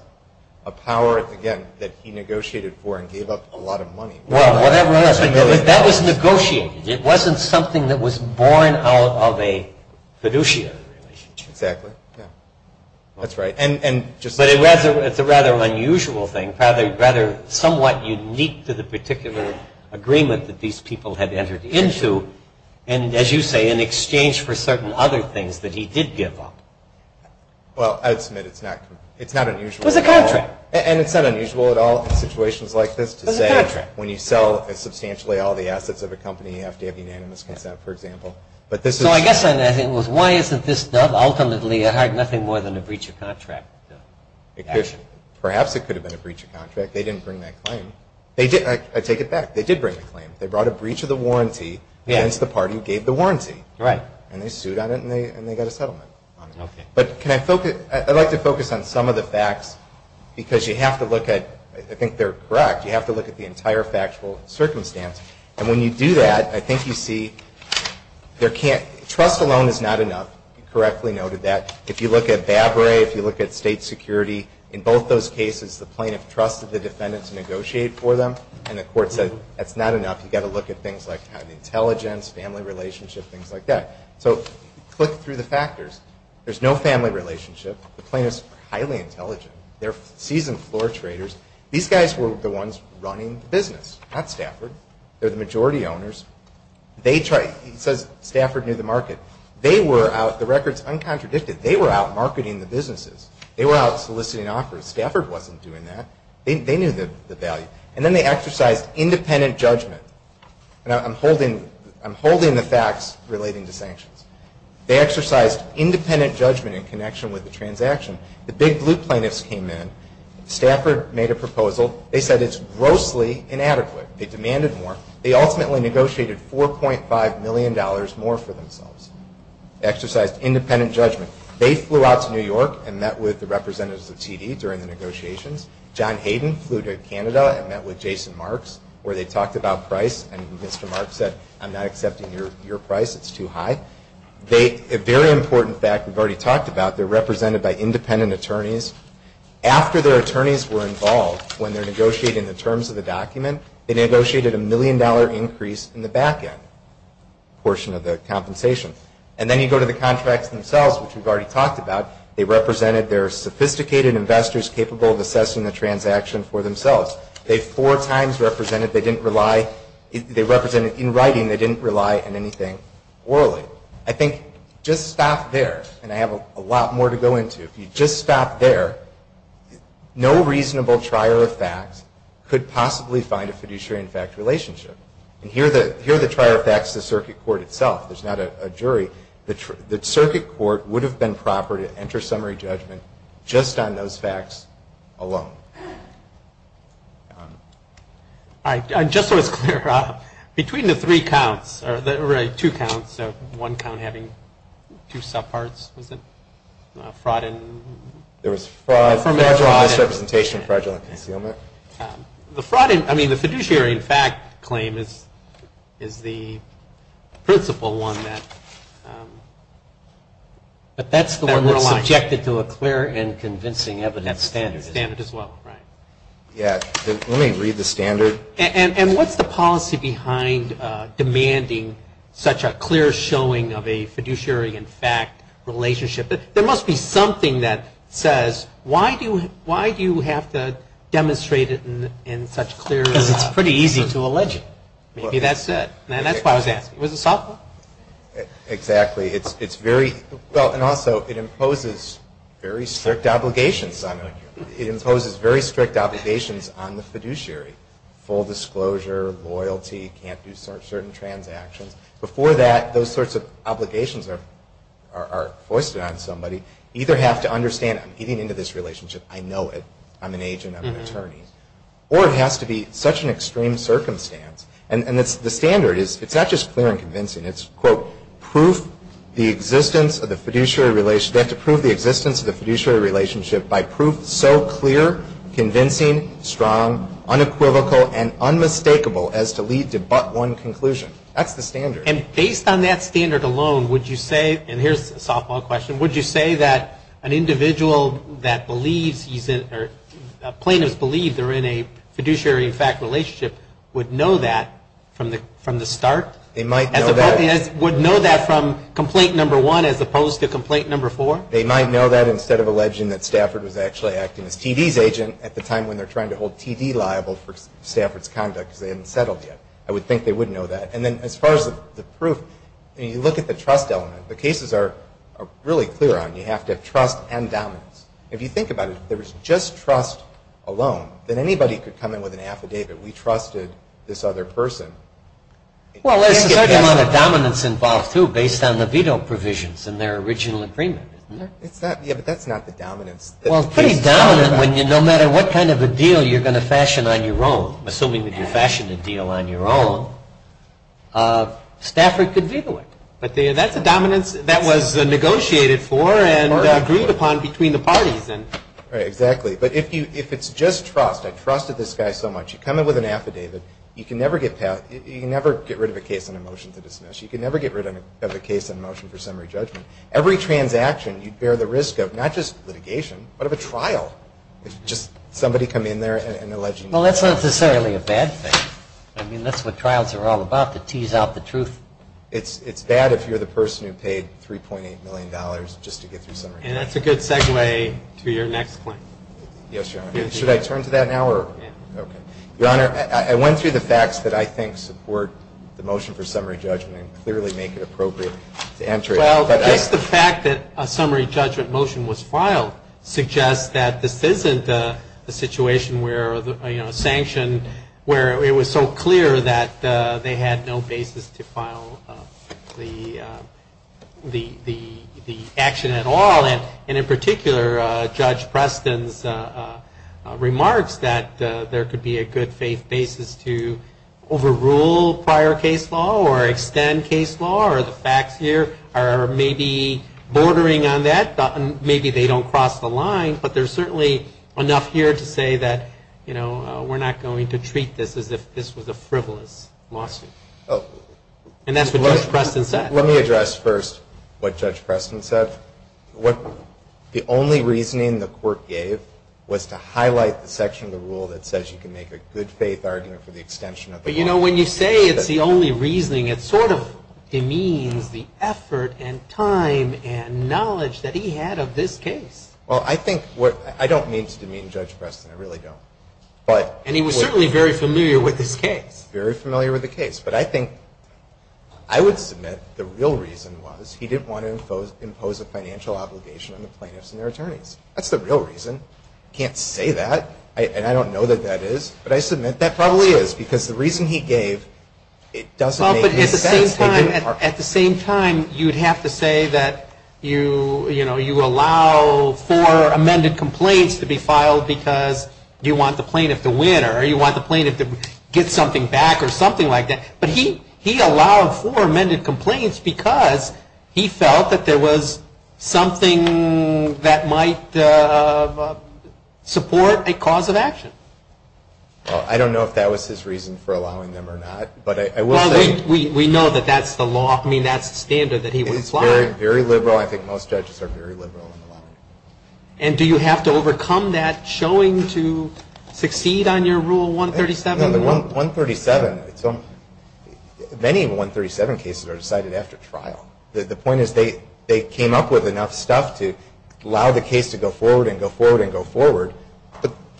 A power, again, that he negotiated for and gave up a lot of money. Well, that was negotiated. It wasn't something that was born out of a fiduciary relationship. Exactly. That's right. But it's a rather unusual thing, rather somewhat unique to the particular agreement that these people had entered into, and as you say, in exchange for certain other things that he did give up. Well, I would submit it's not unusual. It was a contract. And it's not unusual at all in situations like this to say, when you sell substantially all the assets of a company after you have unanimous consent, for example. So I guess what I'm saying is, why isn't this done? Ultimately, I heard nothing more than a breach of contract. Perhaps it could have been a breach of contract. They didn't bring that claim. I take it back. They did bring the claim. They brought a breach of the warranty, hence the party who gave the warranty. Right. And they sued on it, and they got a settlement. Okay. But I'd like to focus on some of the facts, because you have to look at, I think they're correct, you have to look at the entire factual circumstance. And when you do that, I think you see there can't, trust alone is not enough. You correctly noted that. If you look at BABRA, if you look at state security, in both those cases, the plaintiff trusted the defendants to negotiate for them. And the court said, that's not enough. You've got to look at things like kind of intelligence, family relationship, things like that. So click through the factors. There's no family relationship. The plaintiff's highly intelligent. They're seasoned floor traders. These guys were the ones running the business. Not Stafford. They're the majority owners. They tried, he said Stafford knew the market. They were out, the record's uncontradicted, they were out marketing the businesses. They were out soliciting offers. Stafford wasn't doing that. They knew the value. And then they exercised independent judgment. And I'm holding the facts relating to sanctions. They exercised independent judgment in connection with the transaction. The big blue plaintiffs came in. Stafford made a proposal. They said it's grossly inadequate. They demanded more. They ultimately negotiated $4.5 million more for themselves. They exercised independent judgment. They flew out to New York and met with the representatives of TD during the negotiations. John Hayden flew to Canada and met with Jason Marks where they talked about price. And Mr. Marks said, I'm not accepting your price. It's too high. A very important fact we've already talked about. They're represented by independent attorneys. After their attorneys were involved, when they're negotiating the terms of the document, they negotiated a million-dollar increase in the back end portion of their compensation. And then you go to the contracts themselves, which we've already talked about. They represented their sophisticated investors capable of assessing the transaction for themselves. They four times represented they didn't rely. They represented in writing they didn't rely on anything orally. I think just stop there. And I have a lot more to go into. If you just stop there, no reasonable trier of facts could possibly find a fiduciary in fact relationship. And here the trier of facts is the circuit court itself. It's not a jury. The circuit court would have been proper to enter summary judgment just on those facts alone. All right. Just so it's clear, between the three counts, or really two counts, so one count having two subparts, was it? Fraud and... There was fraud, fraudulent representation, fraudulent concealment. The fraud, I mean the fiduciary in fact claim is the principle one that we're objected to a clear and convincing evidence standard. Standard as well. Right. Yeah. Let me read the standard. And what's the policy behind demanding such a clear showing of a fiduciary in fact relationship? There must be something that says, why do you have to demonstrate it in such clear, and it's pretty easy to allege it. Maybe that's it. And that's why I was asking. Was it thoughtful? Exactly. It's very... Well, and also it imposes very strict obligations. It imposes very strict obligations on the fiduciary. Full disclosure, loyalty, can't do certain transactions. Before that, those sorts of obligations are foisted on somebody. Either have to understand, I'm getting into this relationship. I know it. I'm an agent. I'm an attorney. Or it has to be such an extreme circumstance. And the standard is, it's not just clear and convincing. It's, quote, proof the existence of the fiduciary relationship. You have to prove the existence of the fiduciary relationship by proof so clear, convincing, strong, unequivocal, and unmistakable as to lead to but one conclusion. That's the standard. And based on that standard alone, would you say, and here's a softball question, would you say that an individual that believes, or plaintiff believes, are in a fiduciary in fact relationship would know that from the start? They might know that. Would know that from complaint number one as opposed to complaint number four? They might know that instead of alleging that Stafford was actually asking a TD's agent at the time when they're trying to hold TD liable for Stafford's conduct because they hadn't settled yet. I would think they would know that. And then as far as the proof, you look at the trust element. The cases are really clear on you have to trust and dominance. If you think about it, if there was just trust alone, then anybody could come in with an affidavit, we trusted this other person. Well, there's a certain amount of dominance involved, too, based on the veto provisions in their original agreement. Yeah, but that's not the dominance. Well, pretty dominant when no matter what kind of a deal you're going to fashion on your own, assuming that you fashion the deal on your own, Stafford could veto it. But that's the dominance that was negotiated for and agreed upon between the parties. Right, exactly. But if it's just trust, I trusted this guy so much, you come in with an affidavit, you can never get rid of a case on a motion to dismiss. You can never get rid of a case on a motion for summary judgment. Every transaction you bear the risk of, not just litigation, but of a trial. It's just somebody coming in there and alleging. Well, that's not necessarily a bad thing. I mean, that's what trials are all about, to tease out the truth. It's bad if you're the person who paid $3.8 million just to get through summary judgment. And that's a good segue to your next point. Yes, Your Honor. Should I turn to that now? Your Honor, I went through the facts that I think support the motion for summary judgment and clearly make it appropriate to answer it. Well, I think the fact that a summary judgment motion was filed suggests that this isn't a situation where, you know, a sanction where it was so clear that they had no basis to file the action at all. And in particular, Judge Preston's remarks that there could be a good basis to overrule prior case law or extend case law or the facts here are maybe bordering on that. Maybe they don't cross the line, but there's certainly enough here to say that, you know, we're not going to treat this as if this was a frivolous lawsuit. And that's what Judge Preston said. Let me address first what Judge Preston said. The only reasoning the court gave was to highlight the section of the rule that says you can make a good faith argument for the extension of the law. You know, when you say it's the only reasoning, it sort of demeans the effort and time and knowledge that he had of this case. Well, I think what – I don't mean to demean Judge Preston. I really don't. And he was certainly very familiar with his case. Very familiar with the case. But I think – I would submit the real reason was he didn't want to impose a financial obligation on the plaintiffs and their attorneys. That's the real reason. I can't say that, and I don't know that that is, but I submit that probably is because the reason he gave doesn't make any sense. At the same time, you'd have to say that you allow for amended complaints to be filed because you want the plaintiff to win or you want the plaintiff to get something back or something like that. But he allowed for amended complaints because he felt that there was something that might support a cause of action. I don't know if that was his reason for allowing them or not, but I will say – Well, we know that that's the law. I mean, that's the standard that he would apply. It's very liberal. I think most judges are very liberal in the law. And do you have to overcome that showing to succeed on your Rule 137? No, but 137 – many 137 cases are decided after trial. The point is they came up with enough stuff to allow the case to go forward and go forward and go forward.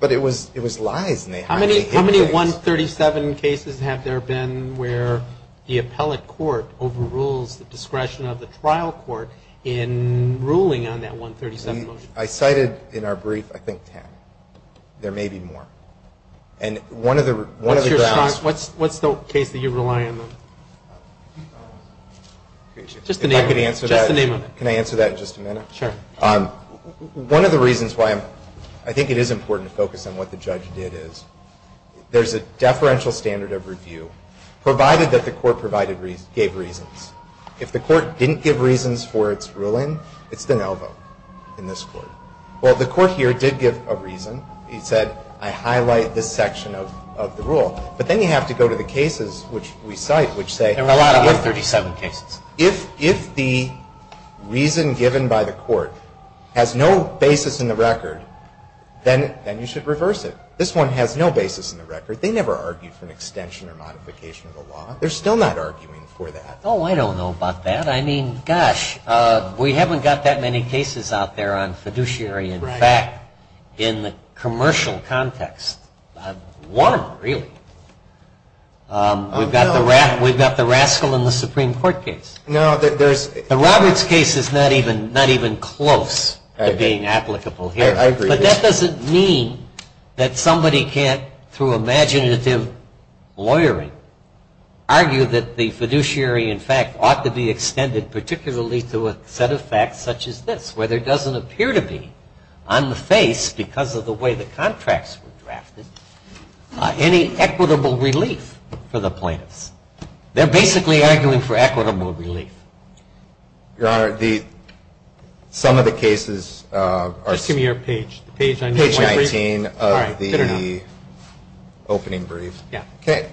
But it was lies. How many 137 cases have there been where the appellate court overrules the discretion of the trial court in ruling on that 137? I cited in our brief, I think, 10. There may be more. And one of the – What's the case that you rely on the most? Can I answer that in just a minute? Sure. One of the reasons why I think it is important to focus on what the judge did is there's a deferential standard of review, provided that the court gave reasons. If the court didn't give reasons for its ruling, it's been outlawed in this court. Well, the court here did give a reason. It said, I highlight this section of the rule. But then you have to go to the cases which we cite, which say – And allow 137 cases. If the reason given by the court has no basis in the record, then you should reverse it. This one has no basis in the record. They never argued for an extension or modification of the law. They're still not arguing for that. Oh, I don't know about that. I mean, gosh, we haven't got that many cases out there on fiduciary and fact in commercial context. One of them, really. We've got the rascal in the Supreme Court case. No, there's – The Roberts case is not even close to being applicable here. I agree. But that doesn't mean that somebody can't, through imaginative lawyering, argue that the fiduciary and fact ought to be extended particularly to a set of facts such as this, where there doesn't appear to be, on the face, because of the way the contracts were drafted, any equitable relief for the plaintiffs. They're basically arguing for equitable relief. Your Honor, some of the cases are – Just give me your page. Page 19 of the opening brief. Yeah. Okay.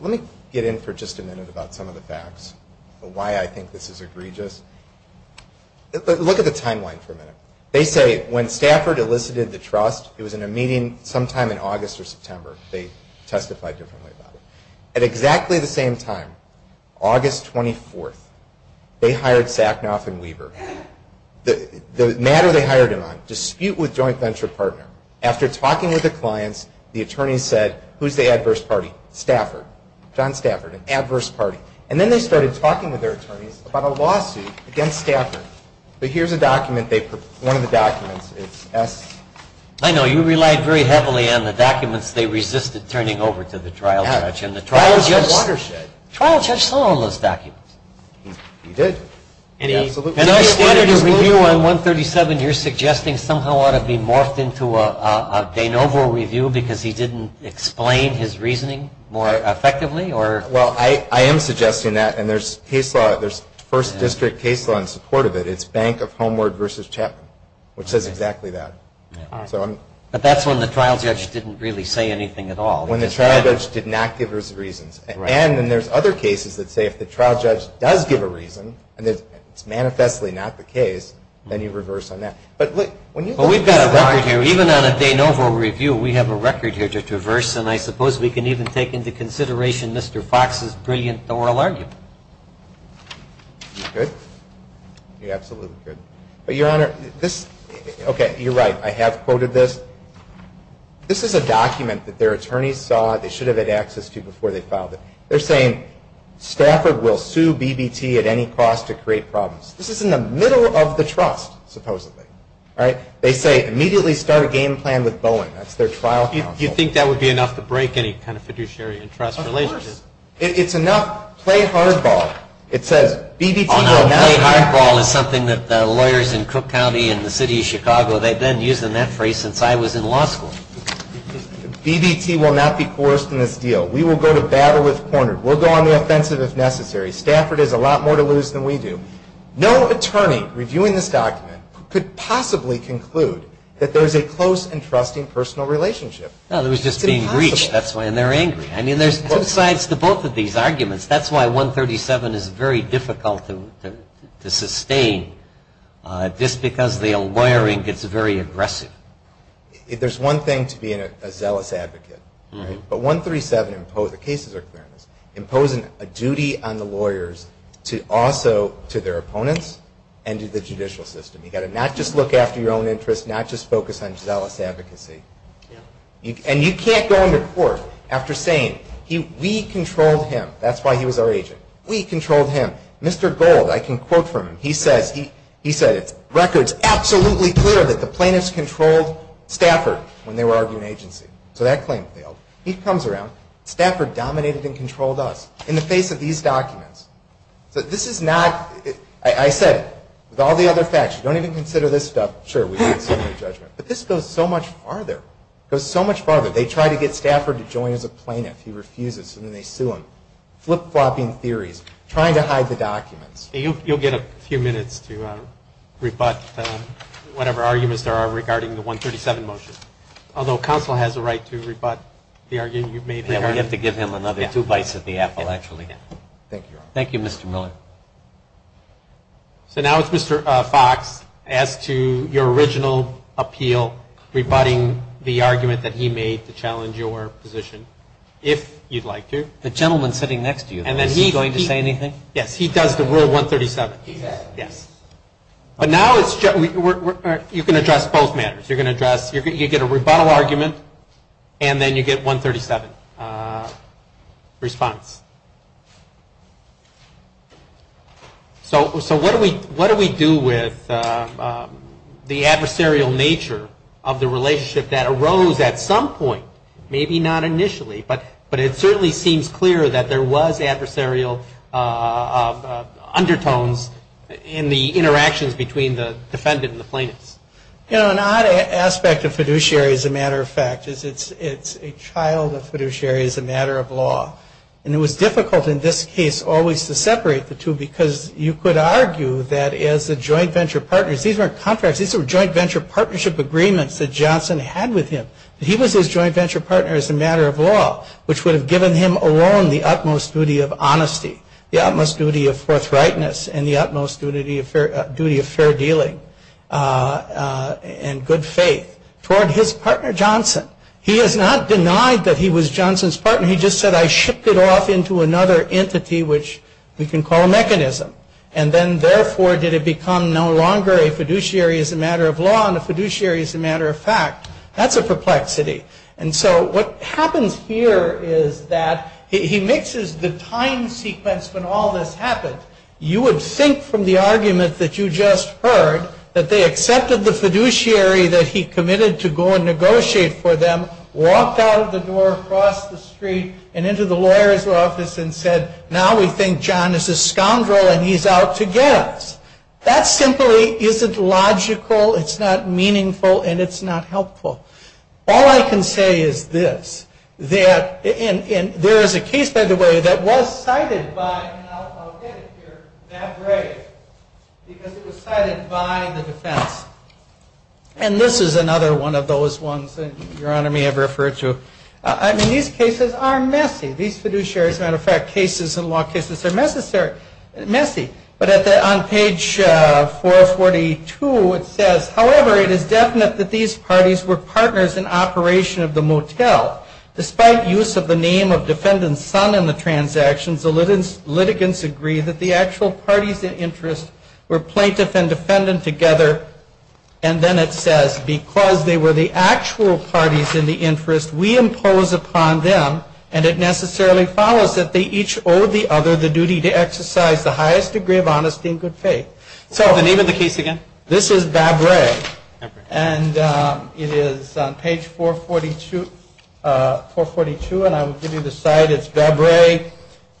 Let me get in for just a minute about some of the facts, why I think this is egregious. Look at the timeline for a minute. They say, when Stafford elicited the trust, it was in a meeting sometime in August or September. They testified differently about it. At exactly the same time, August 24th, they hired Sacknoff and Weaver. The matter they hired him on, dispute with joint venture partner. After talking with the clients, the attorney said, who's the adverse party? Stafford. John Stafford, an adverse party. And then they started talking with their attorneys about a lawsuit against Stafford. Here's a document, one of the documents. I know. You relied very heavily on the documents. They resisted turning over to the trial judge. Yeah. And the trial judge understood. The trial judge saw all those documents. He did. Absolutely. And I get the view on 137, you're suggesting somehow ought to be morphed into a De Novo review because he didn't explain his reasoning more effectively? Well, I am suggesting that. And there's first district case law in support of it. It's Bank of Homeward versus Chapman, which says exactly that. But that's when the trial judge didn't really say anything at all. When the trial judge did not give his reasons. And then there's other cases that say if the trial judge does give a reason and it's manifestly not the case, then you reverse on that. But we've got a record here. Even on a De Novo review, we have a record here to traverse. And I suppose we can even take into consideration Mr. Fox's brilliant oral argument. You think? Yeah, absolutely. Your Honor, you're right. I have quoted this. This is a document that their attorneys thought they should have had access to before they filed it. They're saying Stafford will sue BBT at any cost to create problems. This is in the middle of the trust, supposedly. They say immediately start a game plan with Boeing. Do you think that would be enough to break any kind of fiduciary trust relationship? It's enough. Play hardball. It says BBT will not be forced. Playing hardball is something that lawyers in Cook County and the city of Chicago, they've been using that phrase since I was in law school. BBT will not be forced in this deal. We will go to battle as pointed. We'll go on the offensive as necessary. Stafford has a lot more to lose than we do. No attorney reviewing this document could possibly conclude that there's a close and trusting personal relationship. Well, it was just being breached. That's why they're angry. I mean, there's good sides to both of these arguments. That's why 137 is very difficult to sustain just because the wiring gets very aggressive. There's one thing to being a zealous advocate. But 137, the cases are clear, imposing a duty on the lawyers to also to their opponents and to the judicial system. You've got to not just look after your own interests, not just focus on zealous advocacy. And you can't go into court after saying we controlled him. That's why he was our agent. We controlled him. Mr. Gold, I can quote from him, he said, The plaintiff's record is absolutely clear that the plaintiff's controlled Stafford when they were arguing agency. So that claim failed. He comes around. Stafford dominated and controlled us in the face of these documents. But this is not, I said, with all the other facts, don't even consider this stuff. Sure, we can do the judgment. But this goes so much farther. It goes so much farther. They try to get Stafford to join as a plaintiff. He refuses and then they sue him. Flip-flopping theories. Trying to hide the documents. You'll get a few minutes to rebut whatever arguments there are regarding the 137 motion. Although counsel has a right to rebut the argument you've made. We have to give him another two bites at the apple, actually. Thank you, Mr. Miller. So now it's Mr. Fox, add to your original appeal, rebutting the argument that he made to challenge your position, if you'd like to. The gentleman sitting next to you, is he going to say anything? Yes, he does the word 137. But now you can address both matters. You get a rebuttal argument and then you get 137 response. So what do we do with the adversarial nature of the relationship that arose at some point? Maybe not initially. But it certainly seems clear that there was adversarial undertones in the interactions between the defendant and the plaintiff. You know, an odd aspect of fiduciary, as a matter of fact, is it's a child of fiduciary as a matter of law. And it was difficult in this case always to separate the two because you could argue that as a joint venture partner, these are contracts, these are joint venture partnership agreements that Johnson had with him. He was his joint venture partner as a matter of law, which would have given him alone the utmost duty of honesty, the utmost duty of forthrightness, and the utmost duty of fair dealing and good faith toward his partner Johnson. He has not denied that he was Johnson's partner. He just said, I shipped it off into another entity, which you can call a mechanism. And then, therefore, did it become no longer a fiduciary as a matter of law and a fiduciary as a matter of fact. That's a perplexity. And so what happens here is that he mixes the time sequence when all this happens. You would think from the argument that you just heard that they accepted the fiduciary that he committed to go and negotiate for them, walked out of the door, crossed the street, and into the lawyer's office and said, now we think John is a scoundrel and he's out to get us. That simply isn't logical, it's not meaningful, and it's not helpful. All I can say is this. There is a case, by the way, that was cited by, and I'll get it here, Matt Gray, because it was cited by the defense. And this is another one of those ones that Your Honor may have referred to. I mean, these cases are messy. These fiduciaries, as a matter of fact, cases and law cases are messy. But on page 442 it says, however, it is definite that these parties were partners in operation of the motel. Despite use of the name of defendant's son in the transaction, the litigants agree that the actual parties in interest were plaintiffs and defendants together. And then it says, because they were the actual parties in the interest, we impose upon them, and it necessarily follows that they each owe the other the duty to exercise the highest degree of honesty and good faith. Tell the name of the case again. This is Vabre. And it is on page 442, and I will give you the site. It's Vabre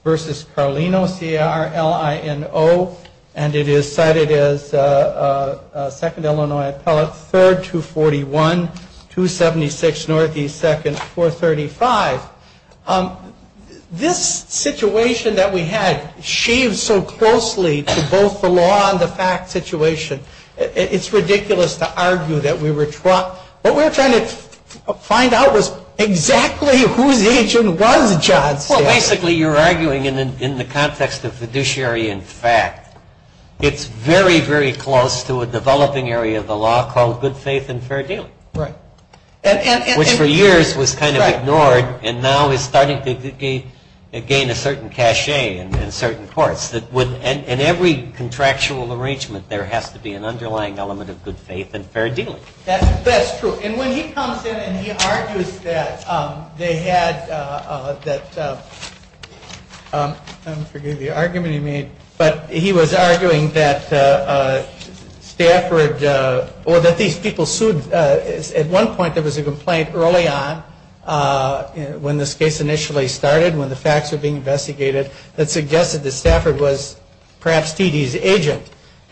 v. Carlino, C-A-R-L-I-N-O. And it is cited as 2nd Illinois Act, 3rd, 241, 276 Northeast 2nd, 435. This situation that we had sheaves so closely to both the law and the fact situation. It's ridiculous to argue that we were trucked. What we're trying to find out was exactly who the agent was, John. Basically, you're arguing in the context of fiduciary and fact, it's very, very close to a developing area of the law called good faith and fair deal. Right. Which for years was kind of ignored, and now is starting to gain a certain cachet in certain courts. In every contractual arrangement, there has to be an underlying element of good faith and fair deal. That's true. And when he comes in and he argues that they had that, I'm forgetting the argument he made, but he was arguing that Stafford, or that these people sued. At one point, there was a complaint early on when this case initially started, when the facts were being investigated, that suggested that Stafford was perhaps Feedy's agent,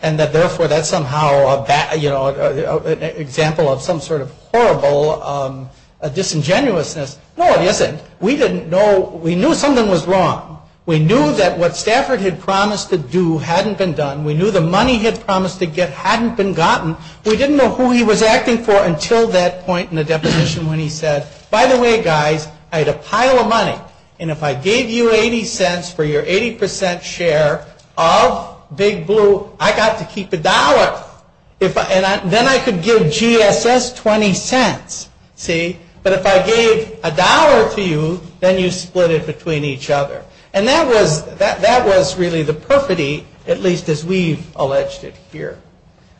and that therefore that's somehow an example of some sort of horrible disingenuousness. No, it isn't. We didn't know. We knew something was wrong. We knew that what Stafford had promised to do hadn't been done. We knew the money he had promised to get hadn't been gotten. We didn't know who he was acting for until that point in the deposition when he said, By the way, guys, I had a pile of money, and if I gave you 80 cents for your 80 percent share of Big Blue, I got to keep a dollar. Then I could give GSS 20 cents. But if I gave a dollar to you, then you split it between each other. And that was really the perfidy, at least as we've alleged it here.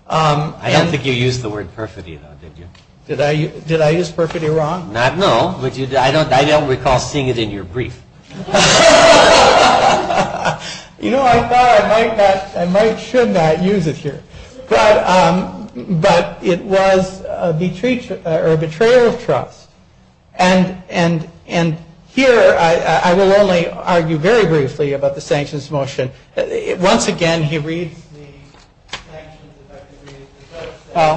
I don't think you used the word perfidy, though, did you? Did I use perfidy wrong? Not at all. I don't recall seeing it in your brief. You know, I thought I might not, I might should not use it here. But it was a betrayal of trust. And here I will only argue very briefly about the sanctions motion. Once again, he reads the sanctions as I read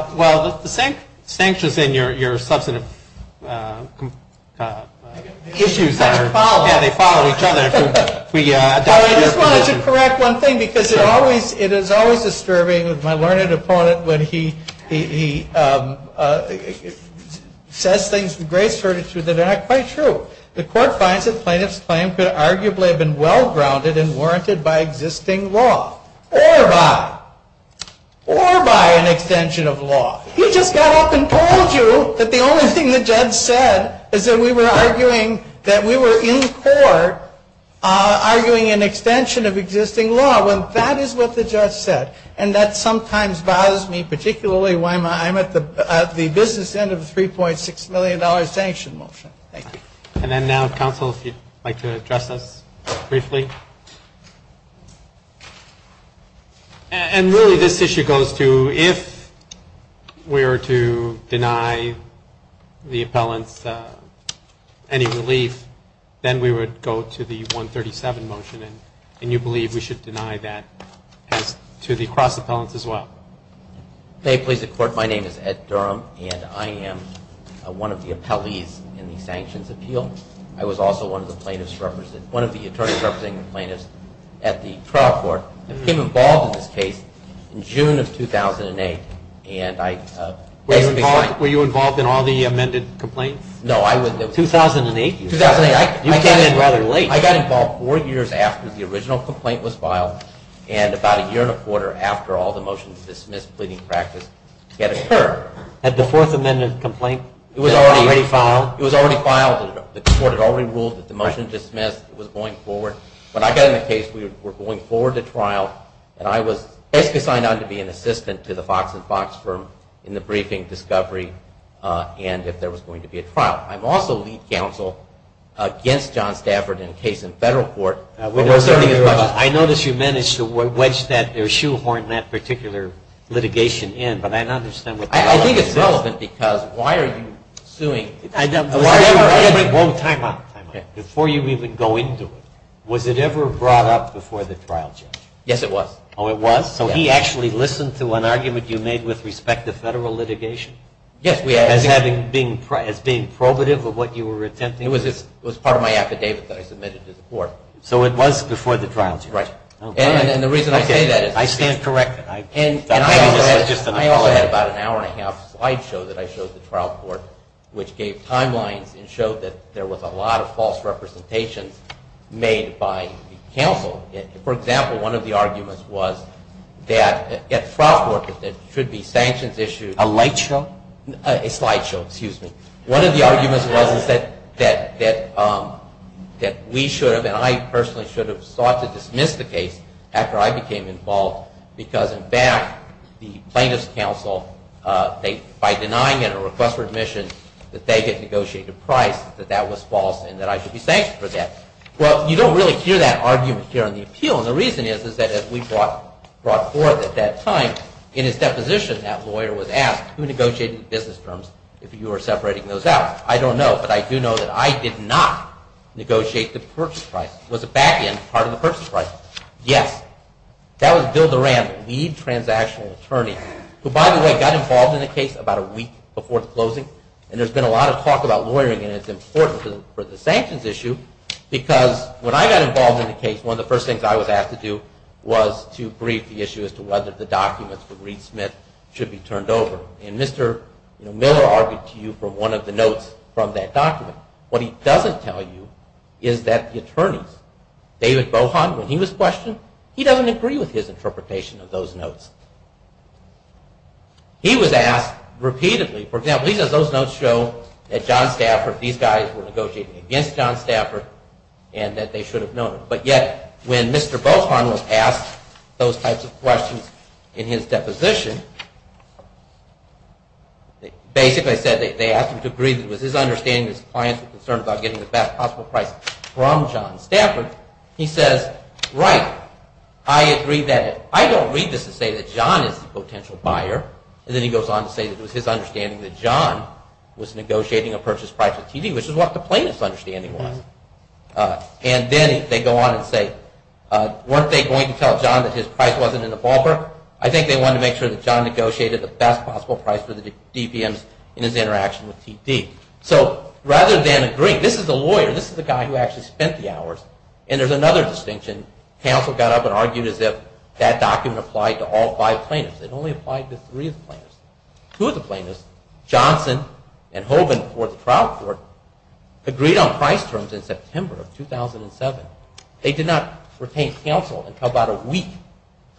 it. Well, the sanctions in your substantive issues that are followed, they follow each other. I just wanted to correct one thing, because it is always disturbing, my learned opponent, when he says things with great certitude that are not quite true. The court finds that Plaintiff's claim could arguably have been well-grounded and warranted by existing law. Or by an extension of law. He just got up and told you that the only thing the judge said is that we were arguing, that we were in court arguing an extension of existing law. Well, that is what the judge said. And that sometimes bothers me, particularly when I'm at the business end of a $3.6 million sanction motion. Thank you. And then now, counsel, if you'd like to address us briefly. And really, this issue goes to, if we were to deny the appellant any relief, then we would go to the 137 motion. And you believe we should deny that to the cross-appellants as well. May it please the court, my name is Ed Durham, and I am one of the appellees in the sanctions appeal. I was also one of the attorneys representing the plaintiffs at the trial court. I became involved in this case in June of 2008. Were you involved in all the amended complaints? No, I was in 2008. You came in rather late. I got involved four years after the original complaint was filed, and about a year and a quarter after all the motions were dismissed, pleading practice had occurred. Had the fourth amended complaint already filed? It was already filed. The court had already ruled that the motion dismissed was going forward. But I got in a case where we were going forward to trial, and I was basically signed on to be an assistant to the Fox and Fox firm in the briefing discovery, and if there was going to be a trial. I'm also lead counsel against John Stafford in a case in federal court. I know that you managed to wedge that or shoehorn that particular litigation in, but I don't understand. I think it's relevant because why are you suing? I don't know. Before you even go into it, was it ever brought up before the trial, sir? Yes, it was. Oh, it was? So he actually listened to an argument you made with respect to federal litigation? Yes. As being probative of what you were attempting? It was part of my affidavit that I submitted to the court. So it was before the trial, sir? Right. And the reason I say that is I stand corrected. I only had about an hour and a half slideshow that I showed the trial court, which gave timelines and showed that there was a lot of false representation made by counsel. For example, one of the arguments was that at trial court, there should be sanctions issues. A slideshow? A slideshow, excuse me. One of the arguments was that we should have, and I personally should have, sought to dismiss the case after I became involved because, in fact, the plaintiff's counsel, by denying it or request for admission, that they had negotiated the price, that that was false and that I should be sanctioned for that. Well, you don't really hear that argument here on the appeal, and the reason is that as we brought forth at that time, in its deposition, that lawyer was asked who negotiated the business terms if you were separating those out. I don't know, but I do know that I did not negotiate the purchase price. Was the back end part of the purchase price? Yes. That was Bill Durand, the lead transactional attorney, who, by the way, got involved in the case about a week before closing, and there's been a lot of talk about lawyering and it's important for the sanctions issue because when I got involved in the case, one of the first things I was asked to do was to brief the issue as to whether the documents of Reed Smith should be turned over, and Mr. Miller argued to you from one of the notes from that document. What he doesn't tell you is that the attorneys, David Bohan, when he was questioned, he doesn't agree with his interpretation of those notes. He was asked repeatedly, for example, even though those notes show that John Stafford, these guys were negotiating against John Stafford and that they should have known it, but yet when Mr. Bohan was asked those types of questions in his deposition, basically they asked him to agree with his understanding that his clients were concerned about getting the best possible price from John Stafford. He said, right, I agree that, I don't read this to say that John is a potential buyer, and then he goes on to say that it was his understanding that John was negotiating a purchase price with TV, which is what the plaintiff's understanding was. And then they go on and say, weren't they going to tell John that his price wasn't in the ballpark? I think they wanted to make sure that John negotiated the best possible price for the DPMs in his interaction with TV. So rather than agree, this is a lawyer, this is the guy who actually spent the hours, and there's another distinction. Counsel got up and argued as if that document applied to all five plaintiffs. It only applied to three of the plaintiffs. Two of the plaintiffs, Johnson and Hogan, who were at the trial court, agreed on price terms in September of 2007. They did not retain counsel until about a week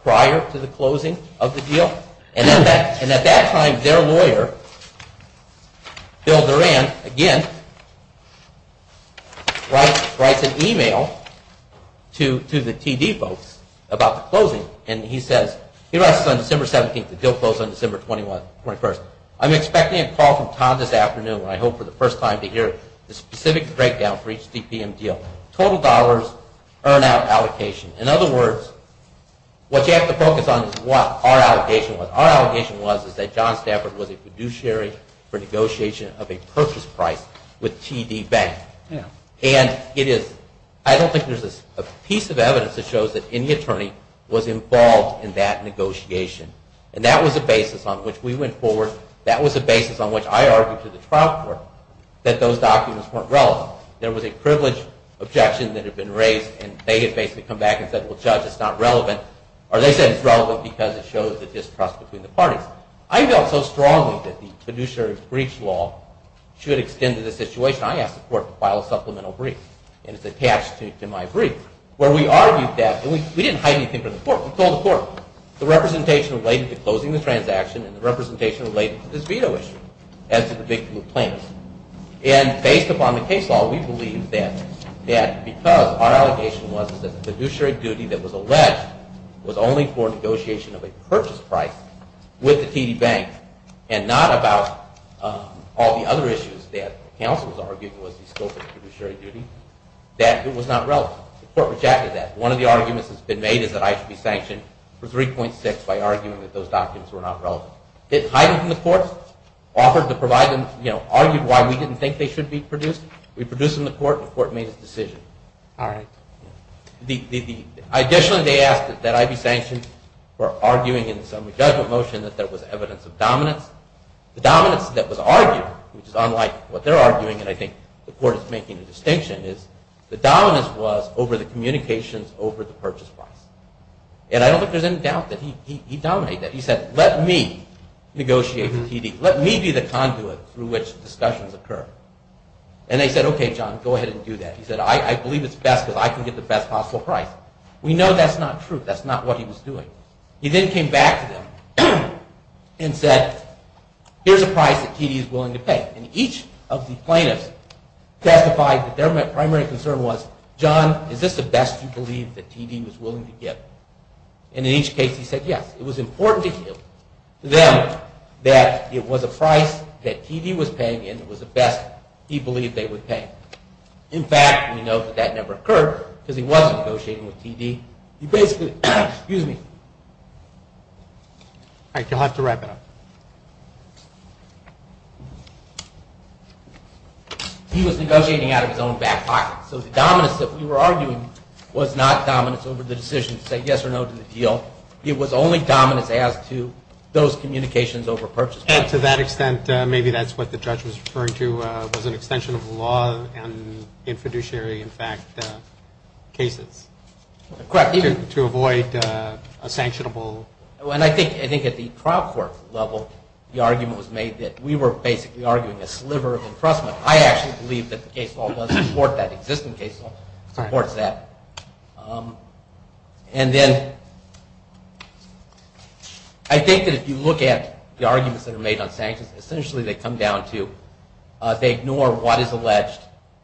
prior to the closing of the deal. And at that time, their lawyer, Bill Duran, again, writes an email to the TV folks about the closing, and he says, he writes on December 17th, the deal closes on December 21st. I'm expecting a call from Tom this afternoon, and I hope for the first time to hear the specific breakdown for each DPM deal. Total dollars, earn out allocation. In other words, what you have to focus on is what our allegation was. Our allegation was that John Stafford was a fiduciary for negotiation of a purchase price with TD Bank. And I don't think there's a piece of evidence that shows that any attorney was involved in that negotiation. And that was the basis on which we went forward. That was the basis on which I argued to the trial court that those documents weren't relevant. There was a privileged objection that had been raised, and they had basically come back and said, well, Judge, it's not relevant. Or they said it's relevant because it shows the distrust between the parties. I felt so strongly that the fiduciary breach law should extend to the situation. I asked the court to file a supplemental brief, and it's attached to my brief, where we argued that. We didn't hide anything from the court. We told the court. The representation related to closing the transaction, and the representation related to this veto issue, as to the victim complaint. And based upon the case law, we believe that because our allegation was that the fiduciary duty that was alleged was only for negotiation of a purchase price with TD Bank, and not about all the other issues that counsels argued was the scope of the fiduciary duty, that it was not relevant. The court rejected that. One of the arguments that's been made is that I should be sanctioned for 3.6 by arguing that those documents were not relevant. Didn't hide it from the court. Argued why we didn't think they should be produced. We produced them to the court, and the court made a decision. Additionally, they asked that I be sanctioned for arguing in some judgment motion that there was evidence of dominance. The dominance that was argued, which is unlike what they're arguing, and I think the court is making a distinction, is the dominance was over the communications over the purchase price. And I don't think there's any doubt that he dominated that. He said, let me negotiate with TD. Let me do the conduit through which discussions occur. And they said, okay, John, go ahead and do that. He said, I believe it's best that I can get the best possible price. We know that's not true. That's not what he was doing. He then came back to them and said, here's a price that TD is willing to pay. And each of the plaintiffs testified that their primary concern was, John, is this the best you believe that TD was willing to give? And in each case, he said, yes. It was important to him that it was a price that TD was paying and it was the best he believed they would pay. In fact, we know that that never occurred because he was negotiating with TD. He basically said, excuse me. All right, you'll have to wrap it up. He was negotiating out of his own back pocket. So the dominance that we were arguing was not dominance over the decision to say yes or no to the deal. It was only dominance as to those communications over purchase price. And to that extent, maybe that's what the judge was referring to was an extension of the law in fiduciary, in fact, cases. Correct. To avoid a sanctionable. And I think at the trial court level, the argument was made that we were basically arguing a sliver of impressment. I actually believe that the case law doesn't support that. The existing case law supports that. And then I think that if you look at the arguments that are made on sanctions, essentially they come down to they ignore what is alleged.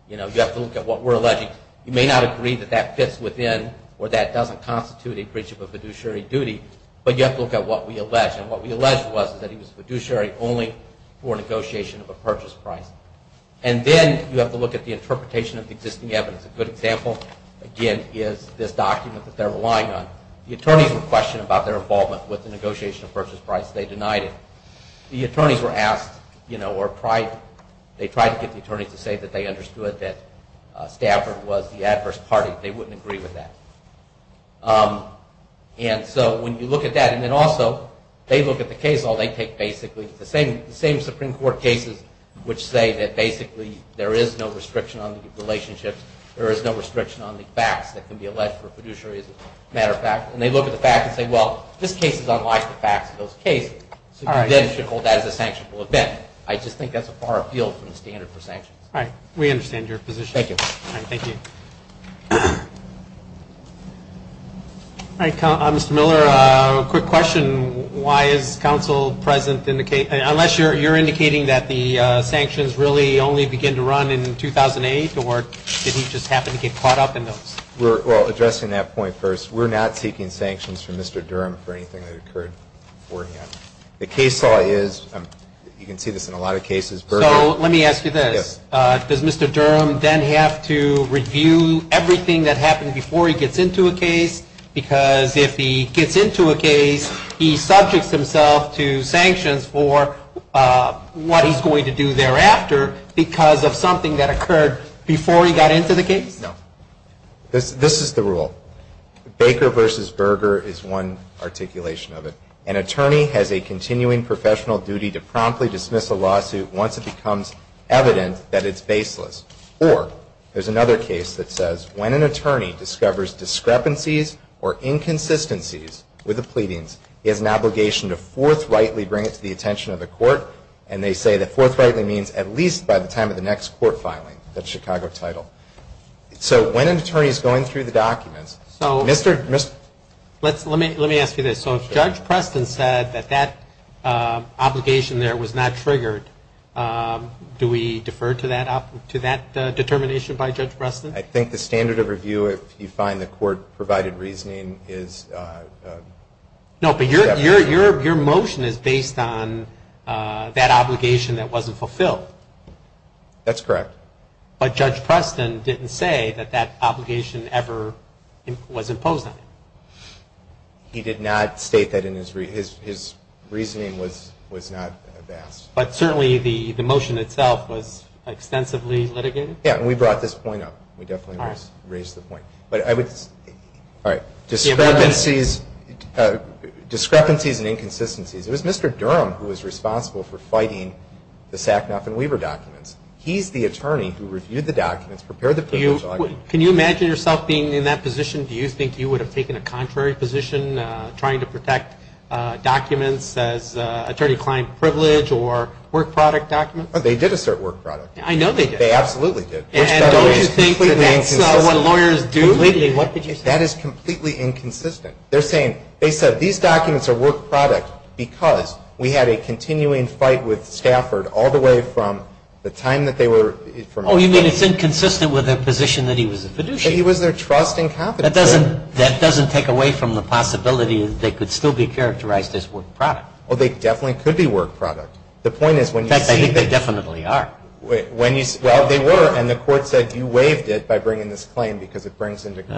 You have to look at what we're alleging. You may not agree that that fits within or that doesn't constitute a breach of a fiduciary duty, but you have to look at what we allege. And what we allege was that he was fiduciary only for negotiation of a purchase price. And then you have to look at the interpretation of the existing evidence. A good example, again, is this document that they're relying on. The attorneys were questioned about their involvement with the negotiation of purchase price. They denied it. The attorneys were asked or they tried to get the attorneys to say that they understood that Stafford was the adverse party. They wouldn't agree with that. And so when you look at that, and then also they look at the case law, they take basically the same Supreme Court cases which say that basically there is no restriction on relationships. There is no restriction on the facts that can be alleged for fiduciary as a matter of fact. And they look at the facts and say, well, this case is unlike the facts of those cases. So you then should hold that as a sanctionable event. I just think that's a far field from the standard for sanctions. All right. We understand your position. Thank you. Thank you. Mr. Miller, a quick question. Why is counsel present in the case? Unless you're indicating that the sanctions really only begin to run in 2008 or did we just happen to get caught up in those? We're addressing that point first. We're not seeking sanctions from Mr. Durham for anything that occurred beforehand. The case law is, you can see this in a lot of cases. So let me ask you this. Yes. Does Mr. Durham then have to review everything that happened before he gets into a case? Because if he gets into a case, he subjects himself to sanctions for what he's going to do thereafter because of something that occurred before he got into the case? No. This is the rule. Baker versus Berger is one articulation of it. An attorney has a continuing professional duty to promptly dismiss a lawsuit once it becomes evident that it's baseless. Or there's another case that says when an attorney discovers discrepancies or inconsistencies with a pleading, he has an obligation to forthrightly bring it to the attention of the court. And they say that forthrightly means at least by the time of the next court filing. That's Chicago title. So when an attorney is going through the documents, Mr. Let me ask you this. So if Judge Preston said that that obligation there was not triggered, do we defer to that determination by Judge Preston? I think the standard of review, if you find the court provided reasoning, is. No, but your motion is based on that obligation that wasn't fulfilled. That's correct. But Judge Preston didn't say that that obligation ever was imposed on him. He did not state that in his reasoning. His reasoning was not that. But certainly the motion itself was extensively litigated? Yeah, and we brought this point up. We definitely raised the point. Discrepancies and inconsistencies. It was Mr. Durham who was responsible for fighting the Sacknoff and Weaver documents. He's the attorney who reviewed the documents, prepared the papers. Can you imagine yourself being in that position? Do you think you would have taken a contrary position trying to protect documents as attorney-client privilege or work product documents? They did assert work product. I know they did. They absolutely did. And don't you think that's what lawyers do? What did you say? That is completely inconsistent. They said these documents are work product because we had a continuing fight with Stafford all the way from the time that they were- Oh, you mean it's inconsistent with their position that he was a fiduciary? He was their trust and capital. That doesn't take away from the possibility that they could still be characterized as work product. Well, they definitely could be work product. In fact, I think they definitely are. Well, they were, and the court said you waived it by bringing this claim because it brings into question-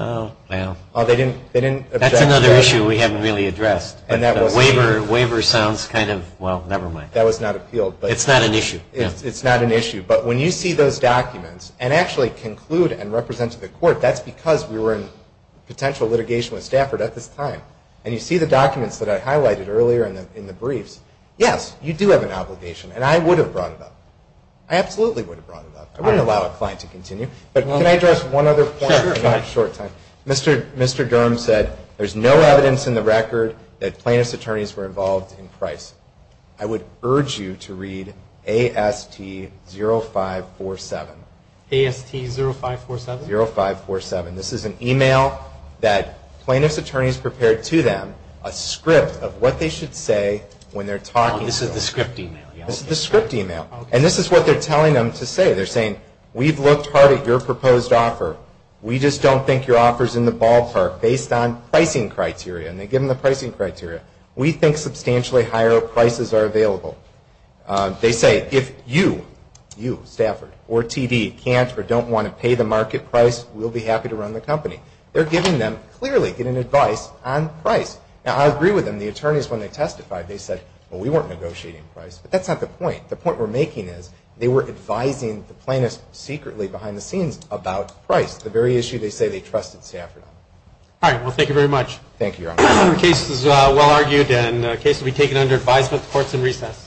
That's another issue we haven't really addressed. The waiver sounds kind of, well, never mind. That was not appealed. It's not an issue. It's not an issue. But when you see those documents and actually conclude and represent to the court, that's because we were in potential litigation with Stafford at this time. And you see the documents that I highlighted earlier in the briefs. Yes, you do have an obligation, and I would have brought it up. I absolutely would have brought it up. I wouldn't allow a client to continue. But can I address one other point? Sure. Mr. Durham said there's no evidence in the record that plaintiff's attorneys were involved in pricing. I would urge you to read AST 0547. AST 0547? 0547. This is an email that plaintiff's attorneys prepared to them, a script of what they should say when they're talking- Oh, this is the script email. This is the script email. And this is what they're telling them to say. They're saying, we've looked hard at your proposed offer. We just don't think your offer's in the ballpark based on pricing criteria. And they give them the pricing criteria. We think substantially higher prices are available. They say, if you, you, Stafford, or TD, can't or don't want to pay the market price, we'll be happy to run the company. They're giving them, clearly, getting advice on price. Now, I agree with them. The attorneys, when they testified, they said, well, we weren't negotiating price. But that's not the point. The point we're making is, they were advising the plaintiffs secretly behind the scenes about price, the very issue they say they trusted Stafford on. All right. Well, thank you very much. Thank you, Your Honor. The case is well argued, and the case will be taken under advisory support and recess.